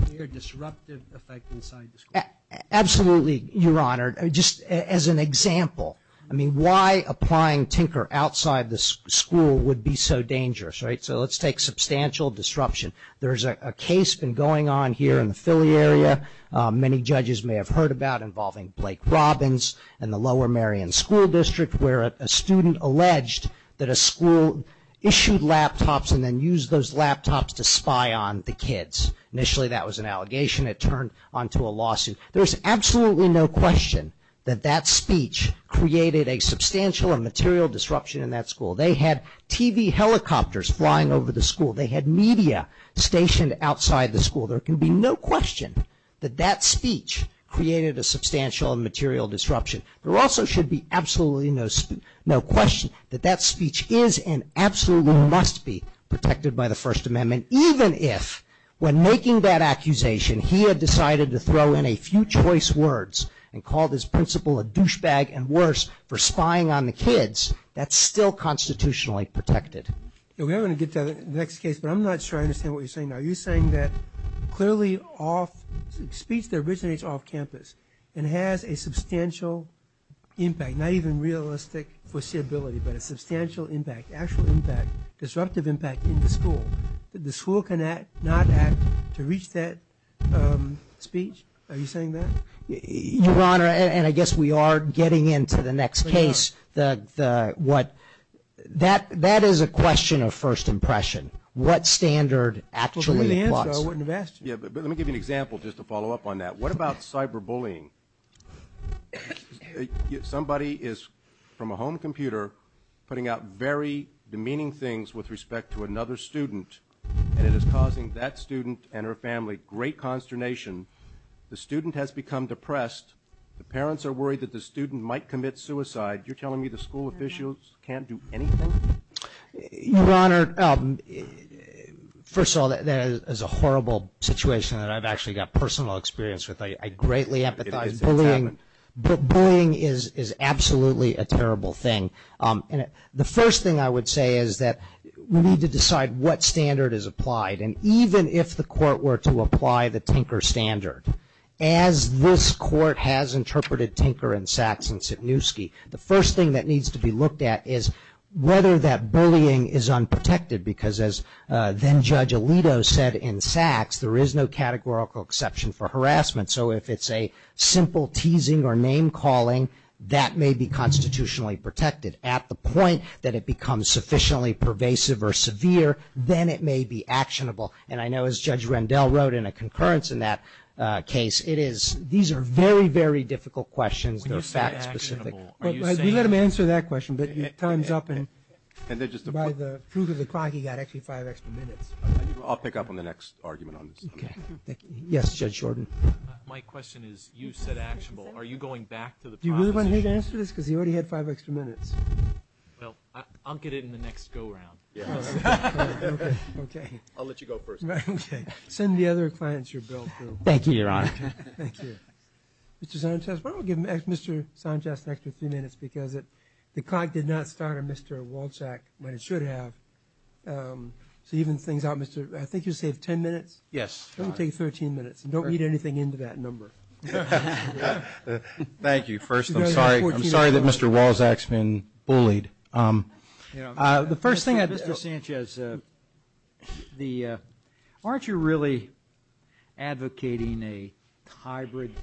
clear disruptive effect inside the school. Absolutely, Your Honor. Just as an example, I mean, why applying tinker outside the school would be so dangerous, right? So let's take substantial disruption. There's a case been going on here in the Philly area. Many judges may have heard about involving Blake Robbins and the Lower Merion School District, where a student alleged that a school issued laptops and then used those laptops to spy on the kids. Initially that was an allegation. It turned onto a lawsuit. There's absolutely no question that that speech created a substantial and material disruption in that school. They had TV helicopters flying over the school. They had media stationed outside the school. There can be no question that that speech created a substantial and material disruption. There also should be absolutely no question that that speech is and absolutely must be protected by the First Amendment, even if, when making that accusation, he had decided to throw in a few choice words and called his principal a douchebag and worse, for spying on the kids, that's still constitutionally protected. We are going to get to that in the next case, but I'm not sure I understand what you're saying. Are you saying that clearly speech that originates off campus and has a substantial impact, not even realistic foreseeability, but a substantial impact, actual impact, disruptive impact in the school, that the school cannot act to reach that speech? Are you saying that? Your Honor, and I guess we are getting into the next case, that is a question of first impression. What standard actually applies? Let me give you an example just to follow up on that. What about cyberbullying? Somebody is, from a home computer, putting out very demeaning things with respect to another student, and it is causing that student and her family great consternation. The student has become depressed. The parents are worried that the student might commit suicide. You're telling me the school officials can't do anything? Your Honor, first of all, that is a horrible situation that I've actually got personal experience with. I greatly empathize with that. Bullying is absolutely a terrible thing. The first thing I would say is that we need to decide what standard is applied, and even if the court were to apply the Tinker standard, as this court has interpreted Tinker and Sachs The first thing that needs to be looked at is whether that bullying is unprotected, because as then-Judge Alito said in Sachs, there is no categorical exception for harassment. So if it's a simple teasing or name-calling, that may be constitutionally protected. At the point that it becomes sufficiently pervasive or severe, then it may be actionable. And I know as Judge Rendell wrote in a concurrence in that case, it is. These are very, very difficult questions. They're fact-specific. You let him answer that question, but your time's up, and by the proof of the clock, you've got actually five extra minutes. I'll pick up on the next argument on this. Okay. Yes, Judge Shorten. My question is, you said actionable. Are you going back to the process? Do you really want me to answer this? Because you already had five extra minutes. Well, I'll get it in the next go-round. Okay. I'll let you go first. Okay. Send the other clients your bill, too. Thank you, Your Honor. Thank you. Mr. Sanchez, why don't we give Mr. Sanchez an extra three minutes, because the clock did not start on Mr. Walczak, but it should have. So even things out, I think you said 10 minutes. Yes. Don't say 13 minutes, and don't read anything into that number. Thank you. First, I'm sorry that Mr. Walczak's been bullied. The first thing, Mr. Sanchez, aren't you really advocating a hybrid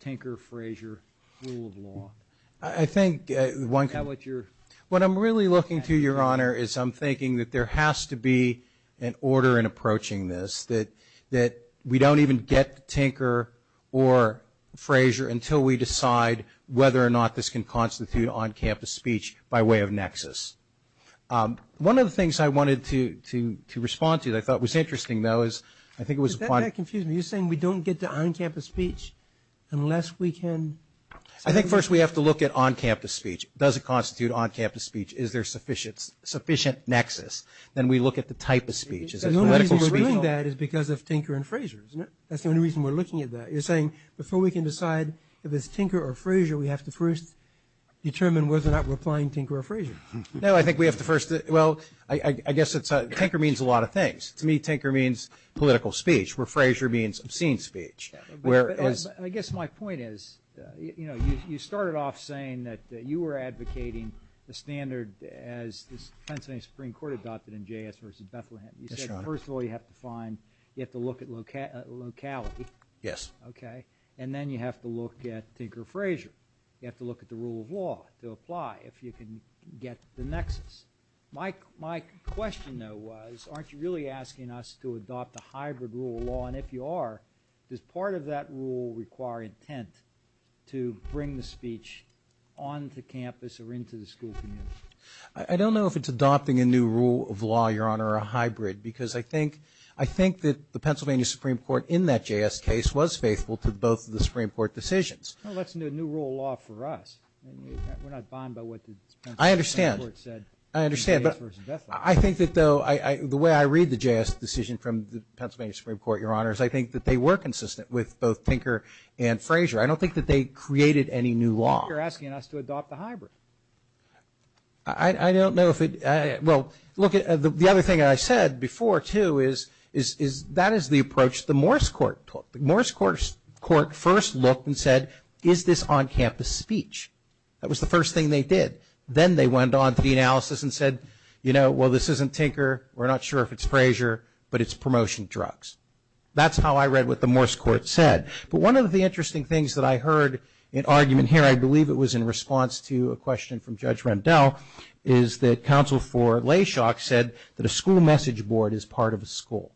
Tinker-Fraser rule of law? I think at one time. What I'm really looking to, Your Honor, is I'm thinking that there has to be an order in approaching this, that we don't even get Tinker or Fraser until we decide whether or not this can constitute on-campus speech by way of nexus. One of the things I wanted to respond to that I thought was interesting, though, is I think it was a point. You're saying we don't get to on-campus speech unless we can. I think first we have to look at on-campus speech. Does it constitute on-campus speech? Is there sufficient nexus? Then we look at the type of speech. The only reason we're doing that is because of Tinker and Fraser, isn't it? That's the only reason we're looking at that. You're saying before we can decide whether it's Tinker or Fraser, we have to first determine whether or not we're applying Tinker or Fraser. No, I think we have to first. Well, I guess Tinker means a lot of things. To me, Tinker means political speech, where Fraser means obscene speech. I guess my point is, you know, you started off saying that you were advocating the standard as the Pennsylvania Supreme Court adopted in JS v. Bethlehem. Yes, Your Honor. You said first of all you have to find, you have to look at locality. Yes. Okay, and then you have to look at Tinker or Fraser. You have to look at the rule of law to apply if you can get the nexus. My question, though, was aren't you really asking us to adopt a hybrid rule of law? And if you are, does part of that rule require intent to bring the speech onto campus or into the school community? I don't know if it's adopting a new rule of law, Your Honor, or a hybrid, because I think that the Pennsylvania Supreme Court in that JS case was faithful to both of the Supreme Court decisions. Well, that's a new rule of law for us. We're not fond of what the Supreme Court said in JS v. Bethlehem. I understand. I understand, but I think that, though, the way I read the JS decision from the Pennsylvania Supreme Court, Your Honor, is I think that they were consistent with both Tinker and Fraser. I don't think that they created any new law. I think you're asking us to adopt the hybrid. I don't know if it, well, the other thing that I said before, too, is that is the approach the Morse Court took. The Morse Court first looked and said, is this on-campus speech? That was the first thing they did. Then they went on to the analysis and said, you know, well, this isn't Tinker. We're not sure if it's Fraser, but it's promotion drugs. That's how I read what the Morse Court said. But one of the interesting things that I heard in argument here, I believe it was in response to a question from Judge Rendell, is that counsel for Layshock said that a school message board is part of a school.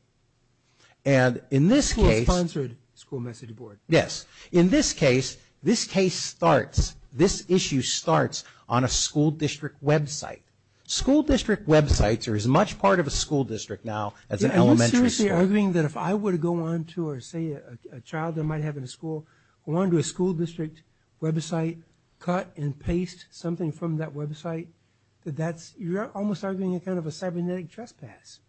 And in this case... A school-sponsored school message board. Yes. In this case, this case starts, this issue starts on a school district website. School district websites are as much part of a school district now as an elementary school. Are you seriously arguing that if I were to go on to, or say, a child that I might have in a school, or on to a school district website, cut and paste something from that website, that that's, you're almost arguing a kind of a cybernetic trespass.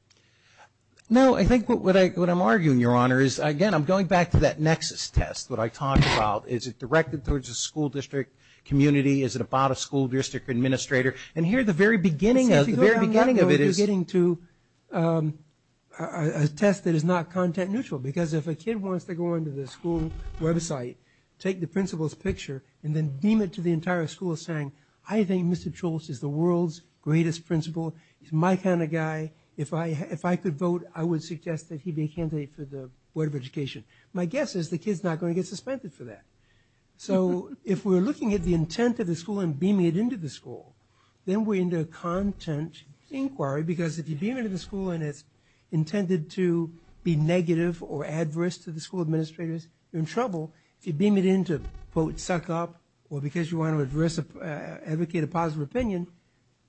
No. I think what I'm arguing, Your Honor, is, again, I'm going back to that nexus test, what I talked about. Is it directed towards a school district community? Is it about a school district administrator? And here at the very beginning, at the very beginning of it, you're getting to a test that is not content-neutral. Because if a kid wants to go on to the school website, take the principal's picture, and then beam it to the entire school saying, I think Mr. Choules is the world's greatest principal, he's my kind of guy, if I could vote, I would suggest that he be a candidate for the Board of Education. My guess is the kid's not going to get suspended for that. So if we're looking at the intent of the school and beaming it into the school, then we're into a content inquiry, because if you beam it into the school and it's intended to be negative or adverse to the school administrators, you're in trouble. If you beam it in to, quote, suck up, or because you want to advocate a positive opinion,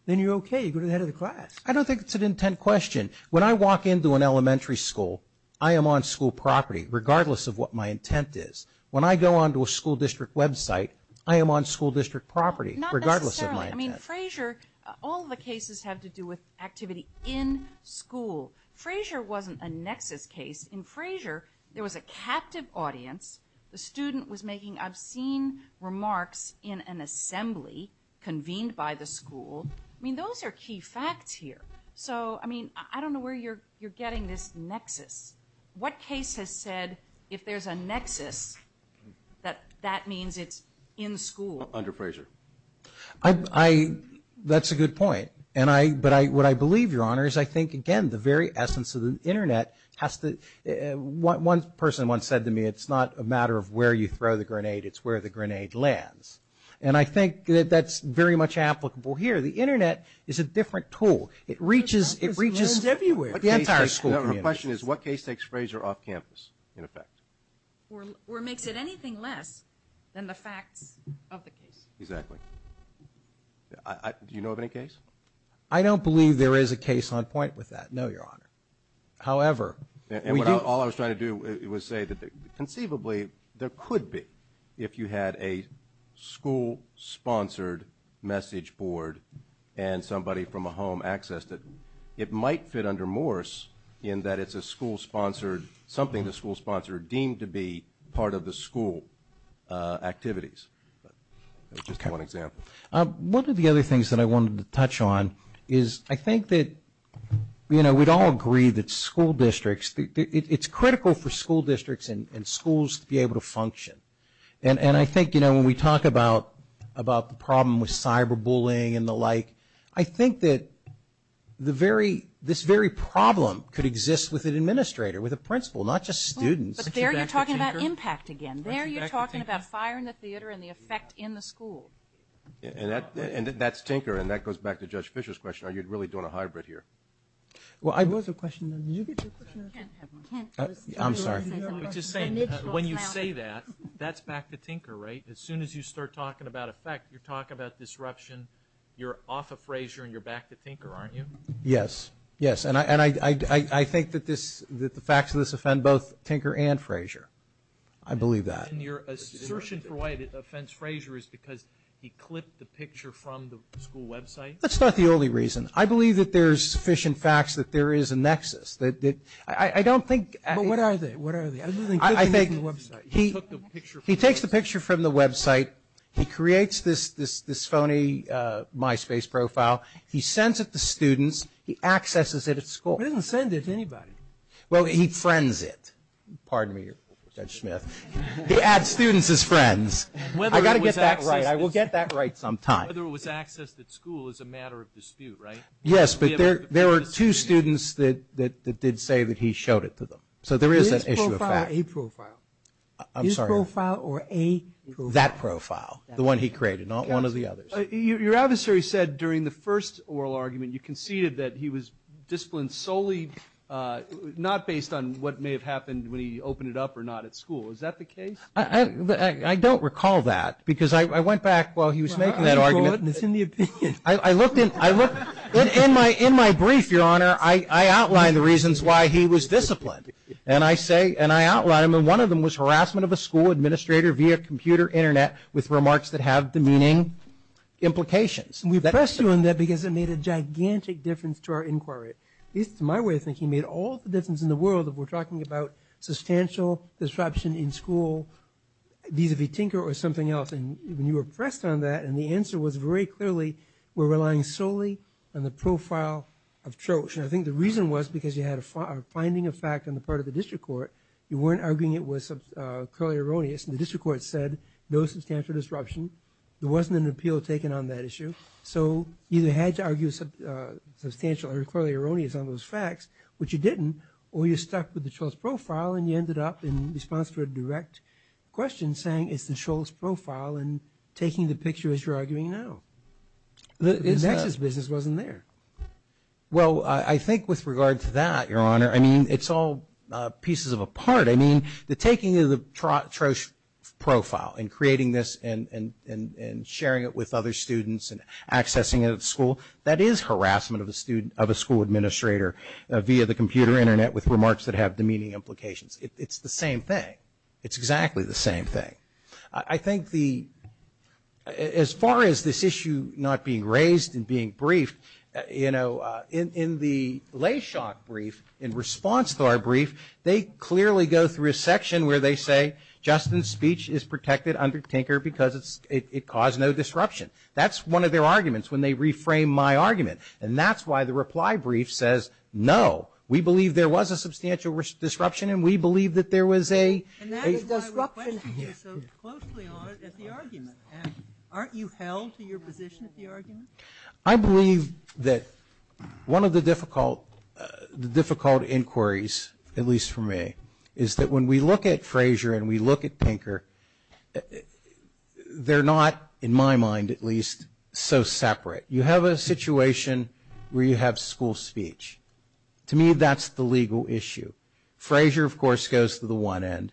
then you're okay, you go to the head of the class. I don't think it's an intent question. When I walk into an elementary school, I am on school property, regardless of what my intent is. When I go on to a school district website, I am on school district property, regardless of my intent. I mean, Frazier, all the cases have to do with activity in school. Frazier wasn't a nexus case. In Frazier, there was a captive audience. The student was making obscene remarks in an assembly convened by the school. I mean, those are key facts here. So, I mean, I don't know where you're getting this nexus. What case has said, if there's a nexus, that that means it's in school? Under Frazier. I, that's a good point. And I, but what I believe, Your Honor, is I think, again, the very essence of the Internet has to, one person once said to me, it's not a matter of where you throw the grenade, it's where the grenade lands. And I think that that's very much applicable here. The Internet is a different tool. It reaches, it reaches the entire school community. The question is, what case takes Frazier off campus, in effect? Or makes it anything less than the fact of the case. Exactly. Do you know of any case? I don't believe there is a case on point with that, no, Your Honor. However, we do. All I was trying to do was say that conceivably there could be, if you had a school-sponsored message board and somebody from a home accessed it, it might fit under Morse in that it's a school-sponsored, something a school-sponsored deemed to be part of the school activities. That's just one example. One of the other things that I wanted to touch on is I think that, you know, we'd all agree that school districts, it's critical for school districts and schools to be able to function. And I think, you know, when we talk about the problem with cyberbullying and the like, I think that this very problem could exist with an administrator, with a principal, not just students. But there you're talking about impact again. There you're talking about firing the theater and the effect in the school. And that's tinker, and that goes back to Judge Fischer's question. Are you really doing a hybrid here? Well, I have another question. I'm sorry. When you say that, that's back to tinker, right? As soon as you start talking about effect, you're talking about disruption. You're off of Frazier and you're back to tinker, aren't you? Yes. Yes. And I think that the facts of this offend both tinker and Frazier. I believe that. And your assertion for why it offends Frazier is because he clipped the picture from the school website? That's not the only reason. I believe that there's sufficient facts that there is a nexus. I don't think. But what are they? What are they? He takes the picture from the website. He creates this phony MySpace profile. He sends it to students. He accesses it at school. He doesn't send it to anybody. Well, he friends it. Pardon me, Judge Smith. He adds students as friends. I've got to get that right. I will get that right sometime. Whether it was accessed at school is a matter of dispute, right? Yes, but there were two students that did say that he showed it to them. So there is an issue of facts. His profile or a profile? I'm sorry. His profile or a profile? That profile, the one he created, not one of the others. Your adversary said during the first oral argument you conceded that he was disciplined solely not based on what may have happened when he opened it up or not at school. Is that the case? I don't recall that because I went back while he was making that argument. It's in the opinion. In my brief, Your Honor, I outline the reasons why he was disciplined. And I say and I outline them. One of them was harassment of a school administrator via computer Internet with remarks that have demeaning implications. We press you on that because it made a gigantic difference to our inquiry. At least in my way of thinking, it made all the difference in the world if we're talking about substantial disruption in school, be it if you tinker or something else. And when you were pressed on that and the answer was very clearly we're relying solely on the profile of Troche. And I think the reason was because you had a finding of fact on the part of the district court. You weren't arguing it was clearly erroneous. And the district court said no substantial disruption. There wasn't an appeal taken on that issue. So you either had to argue substantial or clearly erroneous on those facts, which you didn't, or you stuck with the Troche profile and you ended up in response to a direct question saying it's the Troche profile. And taking the picture as you're arguing now. The business wasn't there. Well, I think with regard to that, Your Honor, I mean, it's all pieces of a part. I mean, the taking of the Troche profile and creating this and sharing it with other students and accessing it at school, that is harassment of a school administrator via the computer Internet with remarks that have demeaning implications. It's the same thing. It's exactly the same thing. I think the as far as this issue not being raised and being briefed, you know, in the Layshock brief, in response to our brief, they clearly go through a section where they say Justin's speech is protected under Tinker because it caused no disruption. That's one of their arguments when they reframe my argument. And that's why the reply brief says no. We believe there was a substantial disruption and we believe that there was a disruption. And that is why we're questioning you so closely, Your Honor, at the argument. Aren't you held to your position at the argument? I believe that one of the difficult inquiries, at least for me, is that when we look at Frazier and we look at Tinker, they're not, in my mind at least, so separate. You have a situation where you have school speech. To me, that's the legal issue. Frazier, of course, goes to the one end,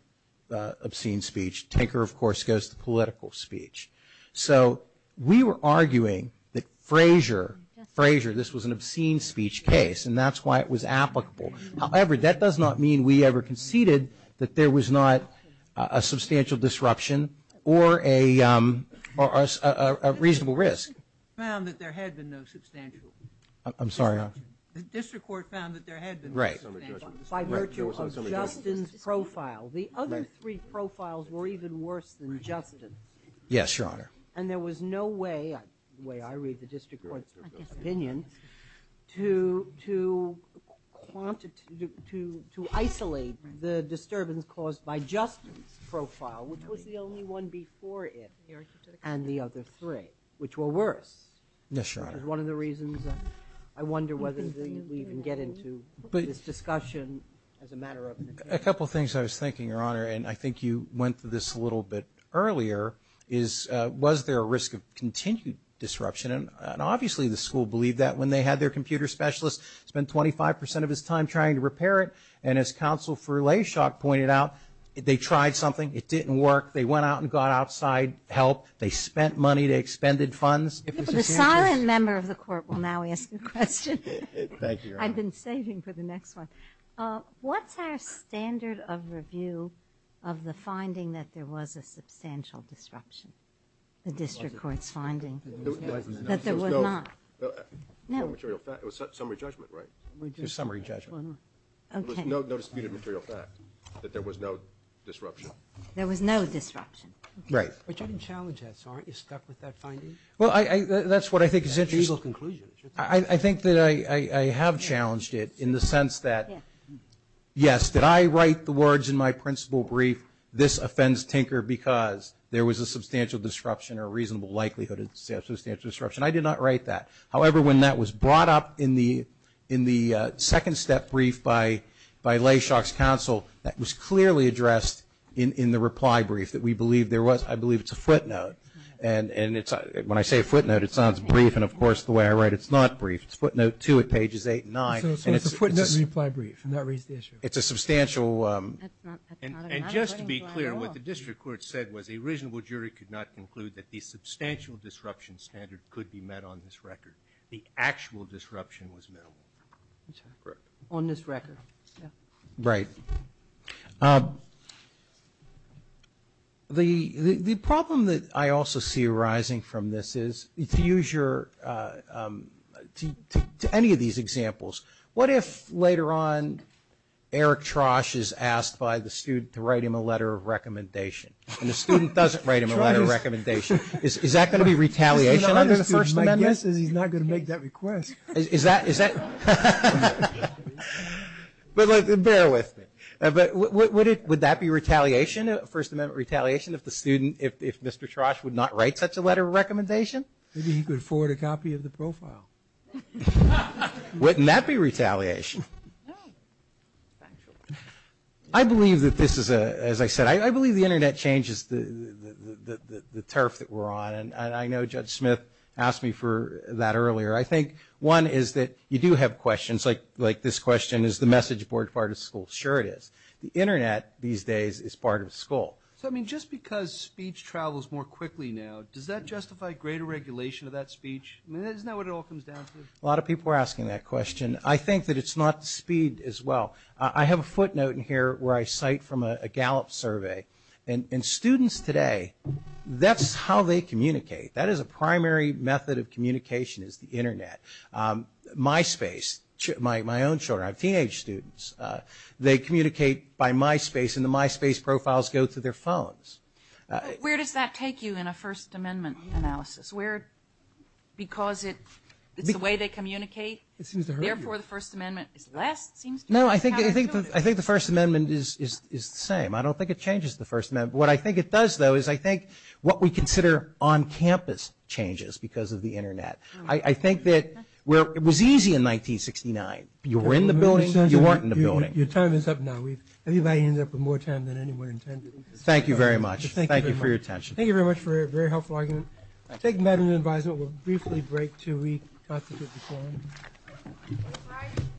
obscene speech. Tinker, of course, goes to political speech. So we were arguing that Frazier, Frazier, this was an obscene speech case and that's why it was applicable. However, that does not mean we ever conceded that there was not a substantial disruption or a reasonable risk. The district court found that there had been no substantial. I'm sorry, Your Honor? The district court found that there had been no substantial. Right. By virtue of Justin's profile. The other three profiles were even worse than Justin. Yes, Your Honor. And there was no way, the way I read the district court's opinion, to isolate the disturbance caused by Justin's profile, which was the only one before it, and the other three, which were worse. Yes, Your Honor. It's one of the reasons I wonder whether we even get into this discussion as a matter of... A couple things I was thinking, Your Honor, and I think you went through this a little bit earlier, was there a risk of continued disruption? And obviously the school believed that when they had their computer specialist spend 25 percent of his time trying to repair it. And as Counsel for Layshock pointed out, they tried something. It didn't work. They went out and got outside help. They spent money. They expended funds. The siren member of the court will now answer the question. Thank you, Your Honor. I've been staging for the next one. What's our standard of review of the finding that there was a substantial disruption? The district court's finding that there was not. No. No material fact. It was summary judgment, right? It was summary judgment. Okay. There was no disputed material fact that there was no disruption. There was no disruption. Right. But you didn't challenge that. So aren't you stuck with that finding? Well, that's what I think is Andrew Eagle's conclusion. I think that I have challenged it in the sense that, yes, did I write the words in my principal brief, this offends Tinker because there was a substantial disruption or reasonable likelihood of substantial disruption? I did not write that. However, when that was brought up in the second step brief by Layshock's counsel, that was clearly addressed in the reply brief that we believe there was. I believe it's a footnote. And when I say footnote, it sounds brief. And, of course, the way I write it, it's not brief. It's footnote 2 at pages 8 and 9. It's a footnote reply brief. It's a substantial. And just to be clear, what the district court said was a reasonable jury could not conclude that the substantial disruption standard could be met on this record. The actual disruption was met. On this record. Right. Thank you. The problem that I also see arising from this is, to use your, to any of these examples, what if later on Eric Trosh is asked by the student to write him a letter of recommendation? And the student doesn't write him a letter of recommendation. Is that going to be retaliation? He's not going to make that request. Is that? But, like, bear with me. But would that be retaliation, First Amendment retaliation, if the student, if Mr. Trosh would not write such a letter of recommendation? Maybe he could afford a copy of the profile. Wouldn't that be retaliation? No. I believe that this is a, as I said, I believe the Internet changes the turf that we're on. And I know Judge Smith asked me for that earlier. I think one is that you do have questions. Like this question, is the message board part of school? Sure it is. The Internet these days is part of school. So, I mean, just because speech travels more quickly now, does that justify greater regulation of that speech? Isn't that what it all comes down to? A lot of people are asking that question. I think that it's not speed as well. I have a footnote in here where I cite from a Gallup survey. And students today, that's how they communicate. That is a primary method of communication is the Internet. MySpace, my own children, our teenage students, they communicate by MySpace, and the MySpace profiles go through their phones. Where does that take you in a First Amendment analysis? Where, because it's the way they communicate? Therefore, the First Amendment is less, it seems to me. No, I think the First Amendment is the same. I don't think it changes the First Amendment. What I think it does, though, is I think what we consider on-campus changes because of the Internet. I think that it was easy in 1969. You were in the building. You weren't in the building. Your time is up now. Anybody ended up with more time than anyone intended. Thank you very much. Thank you for your attention. Thank you very much for a very helpful argument. I take that as an advisement. We'll briefly break to read 5 to 54.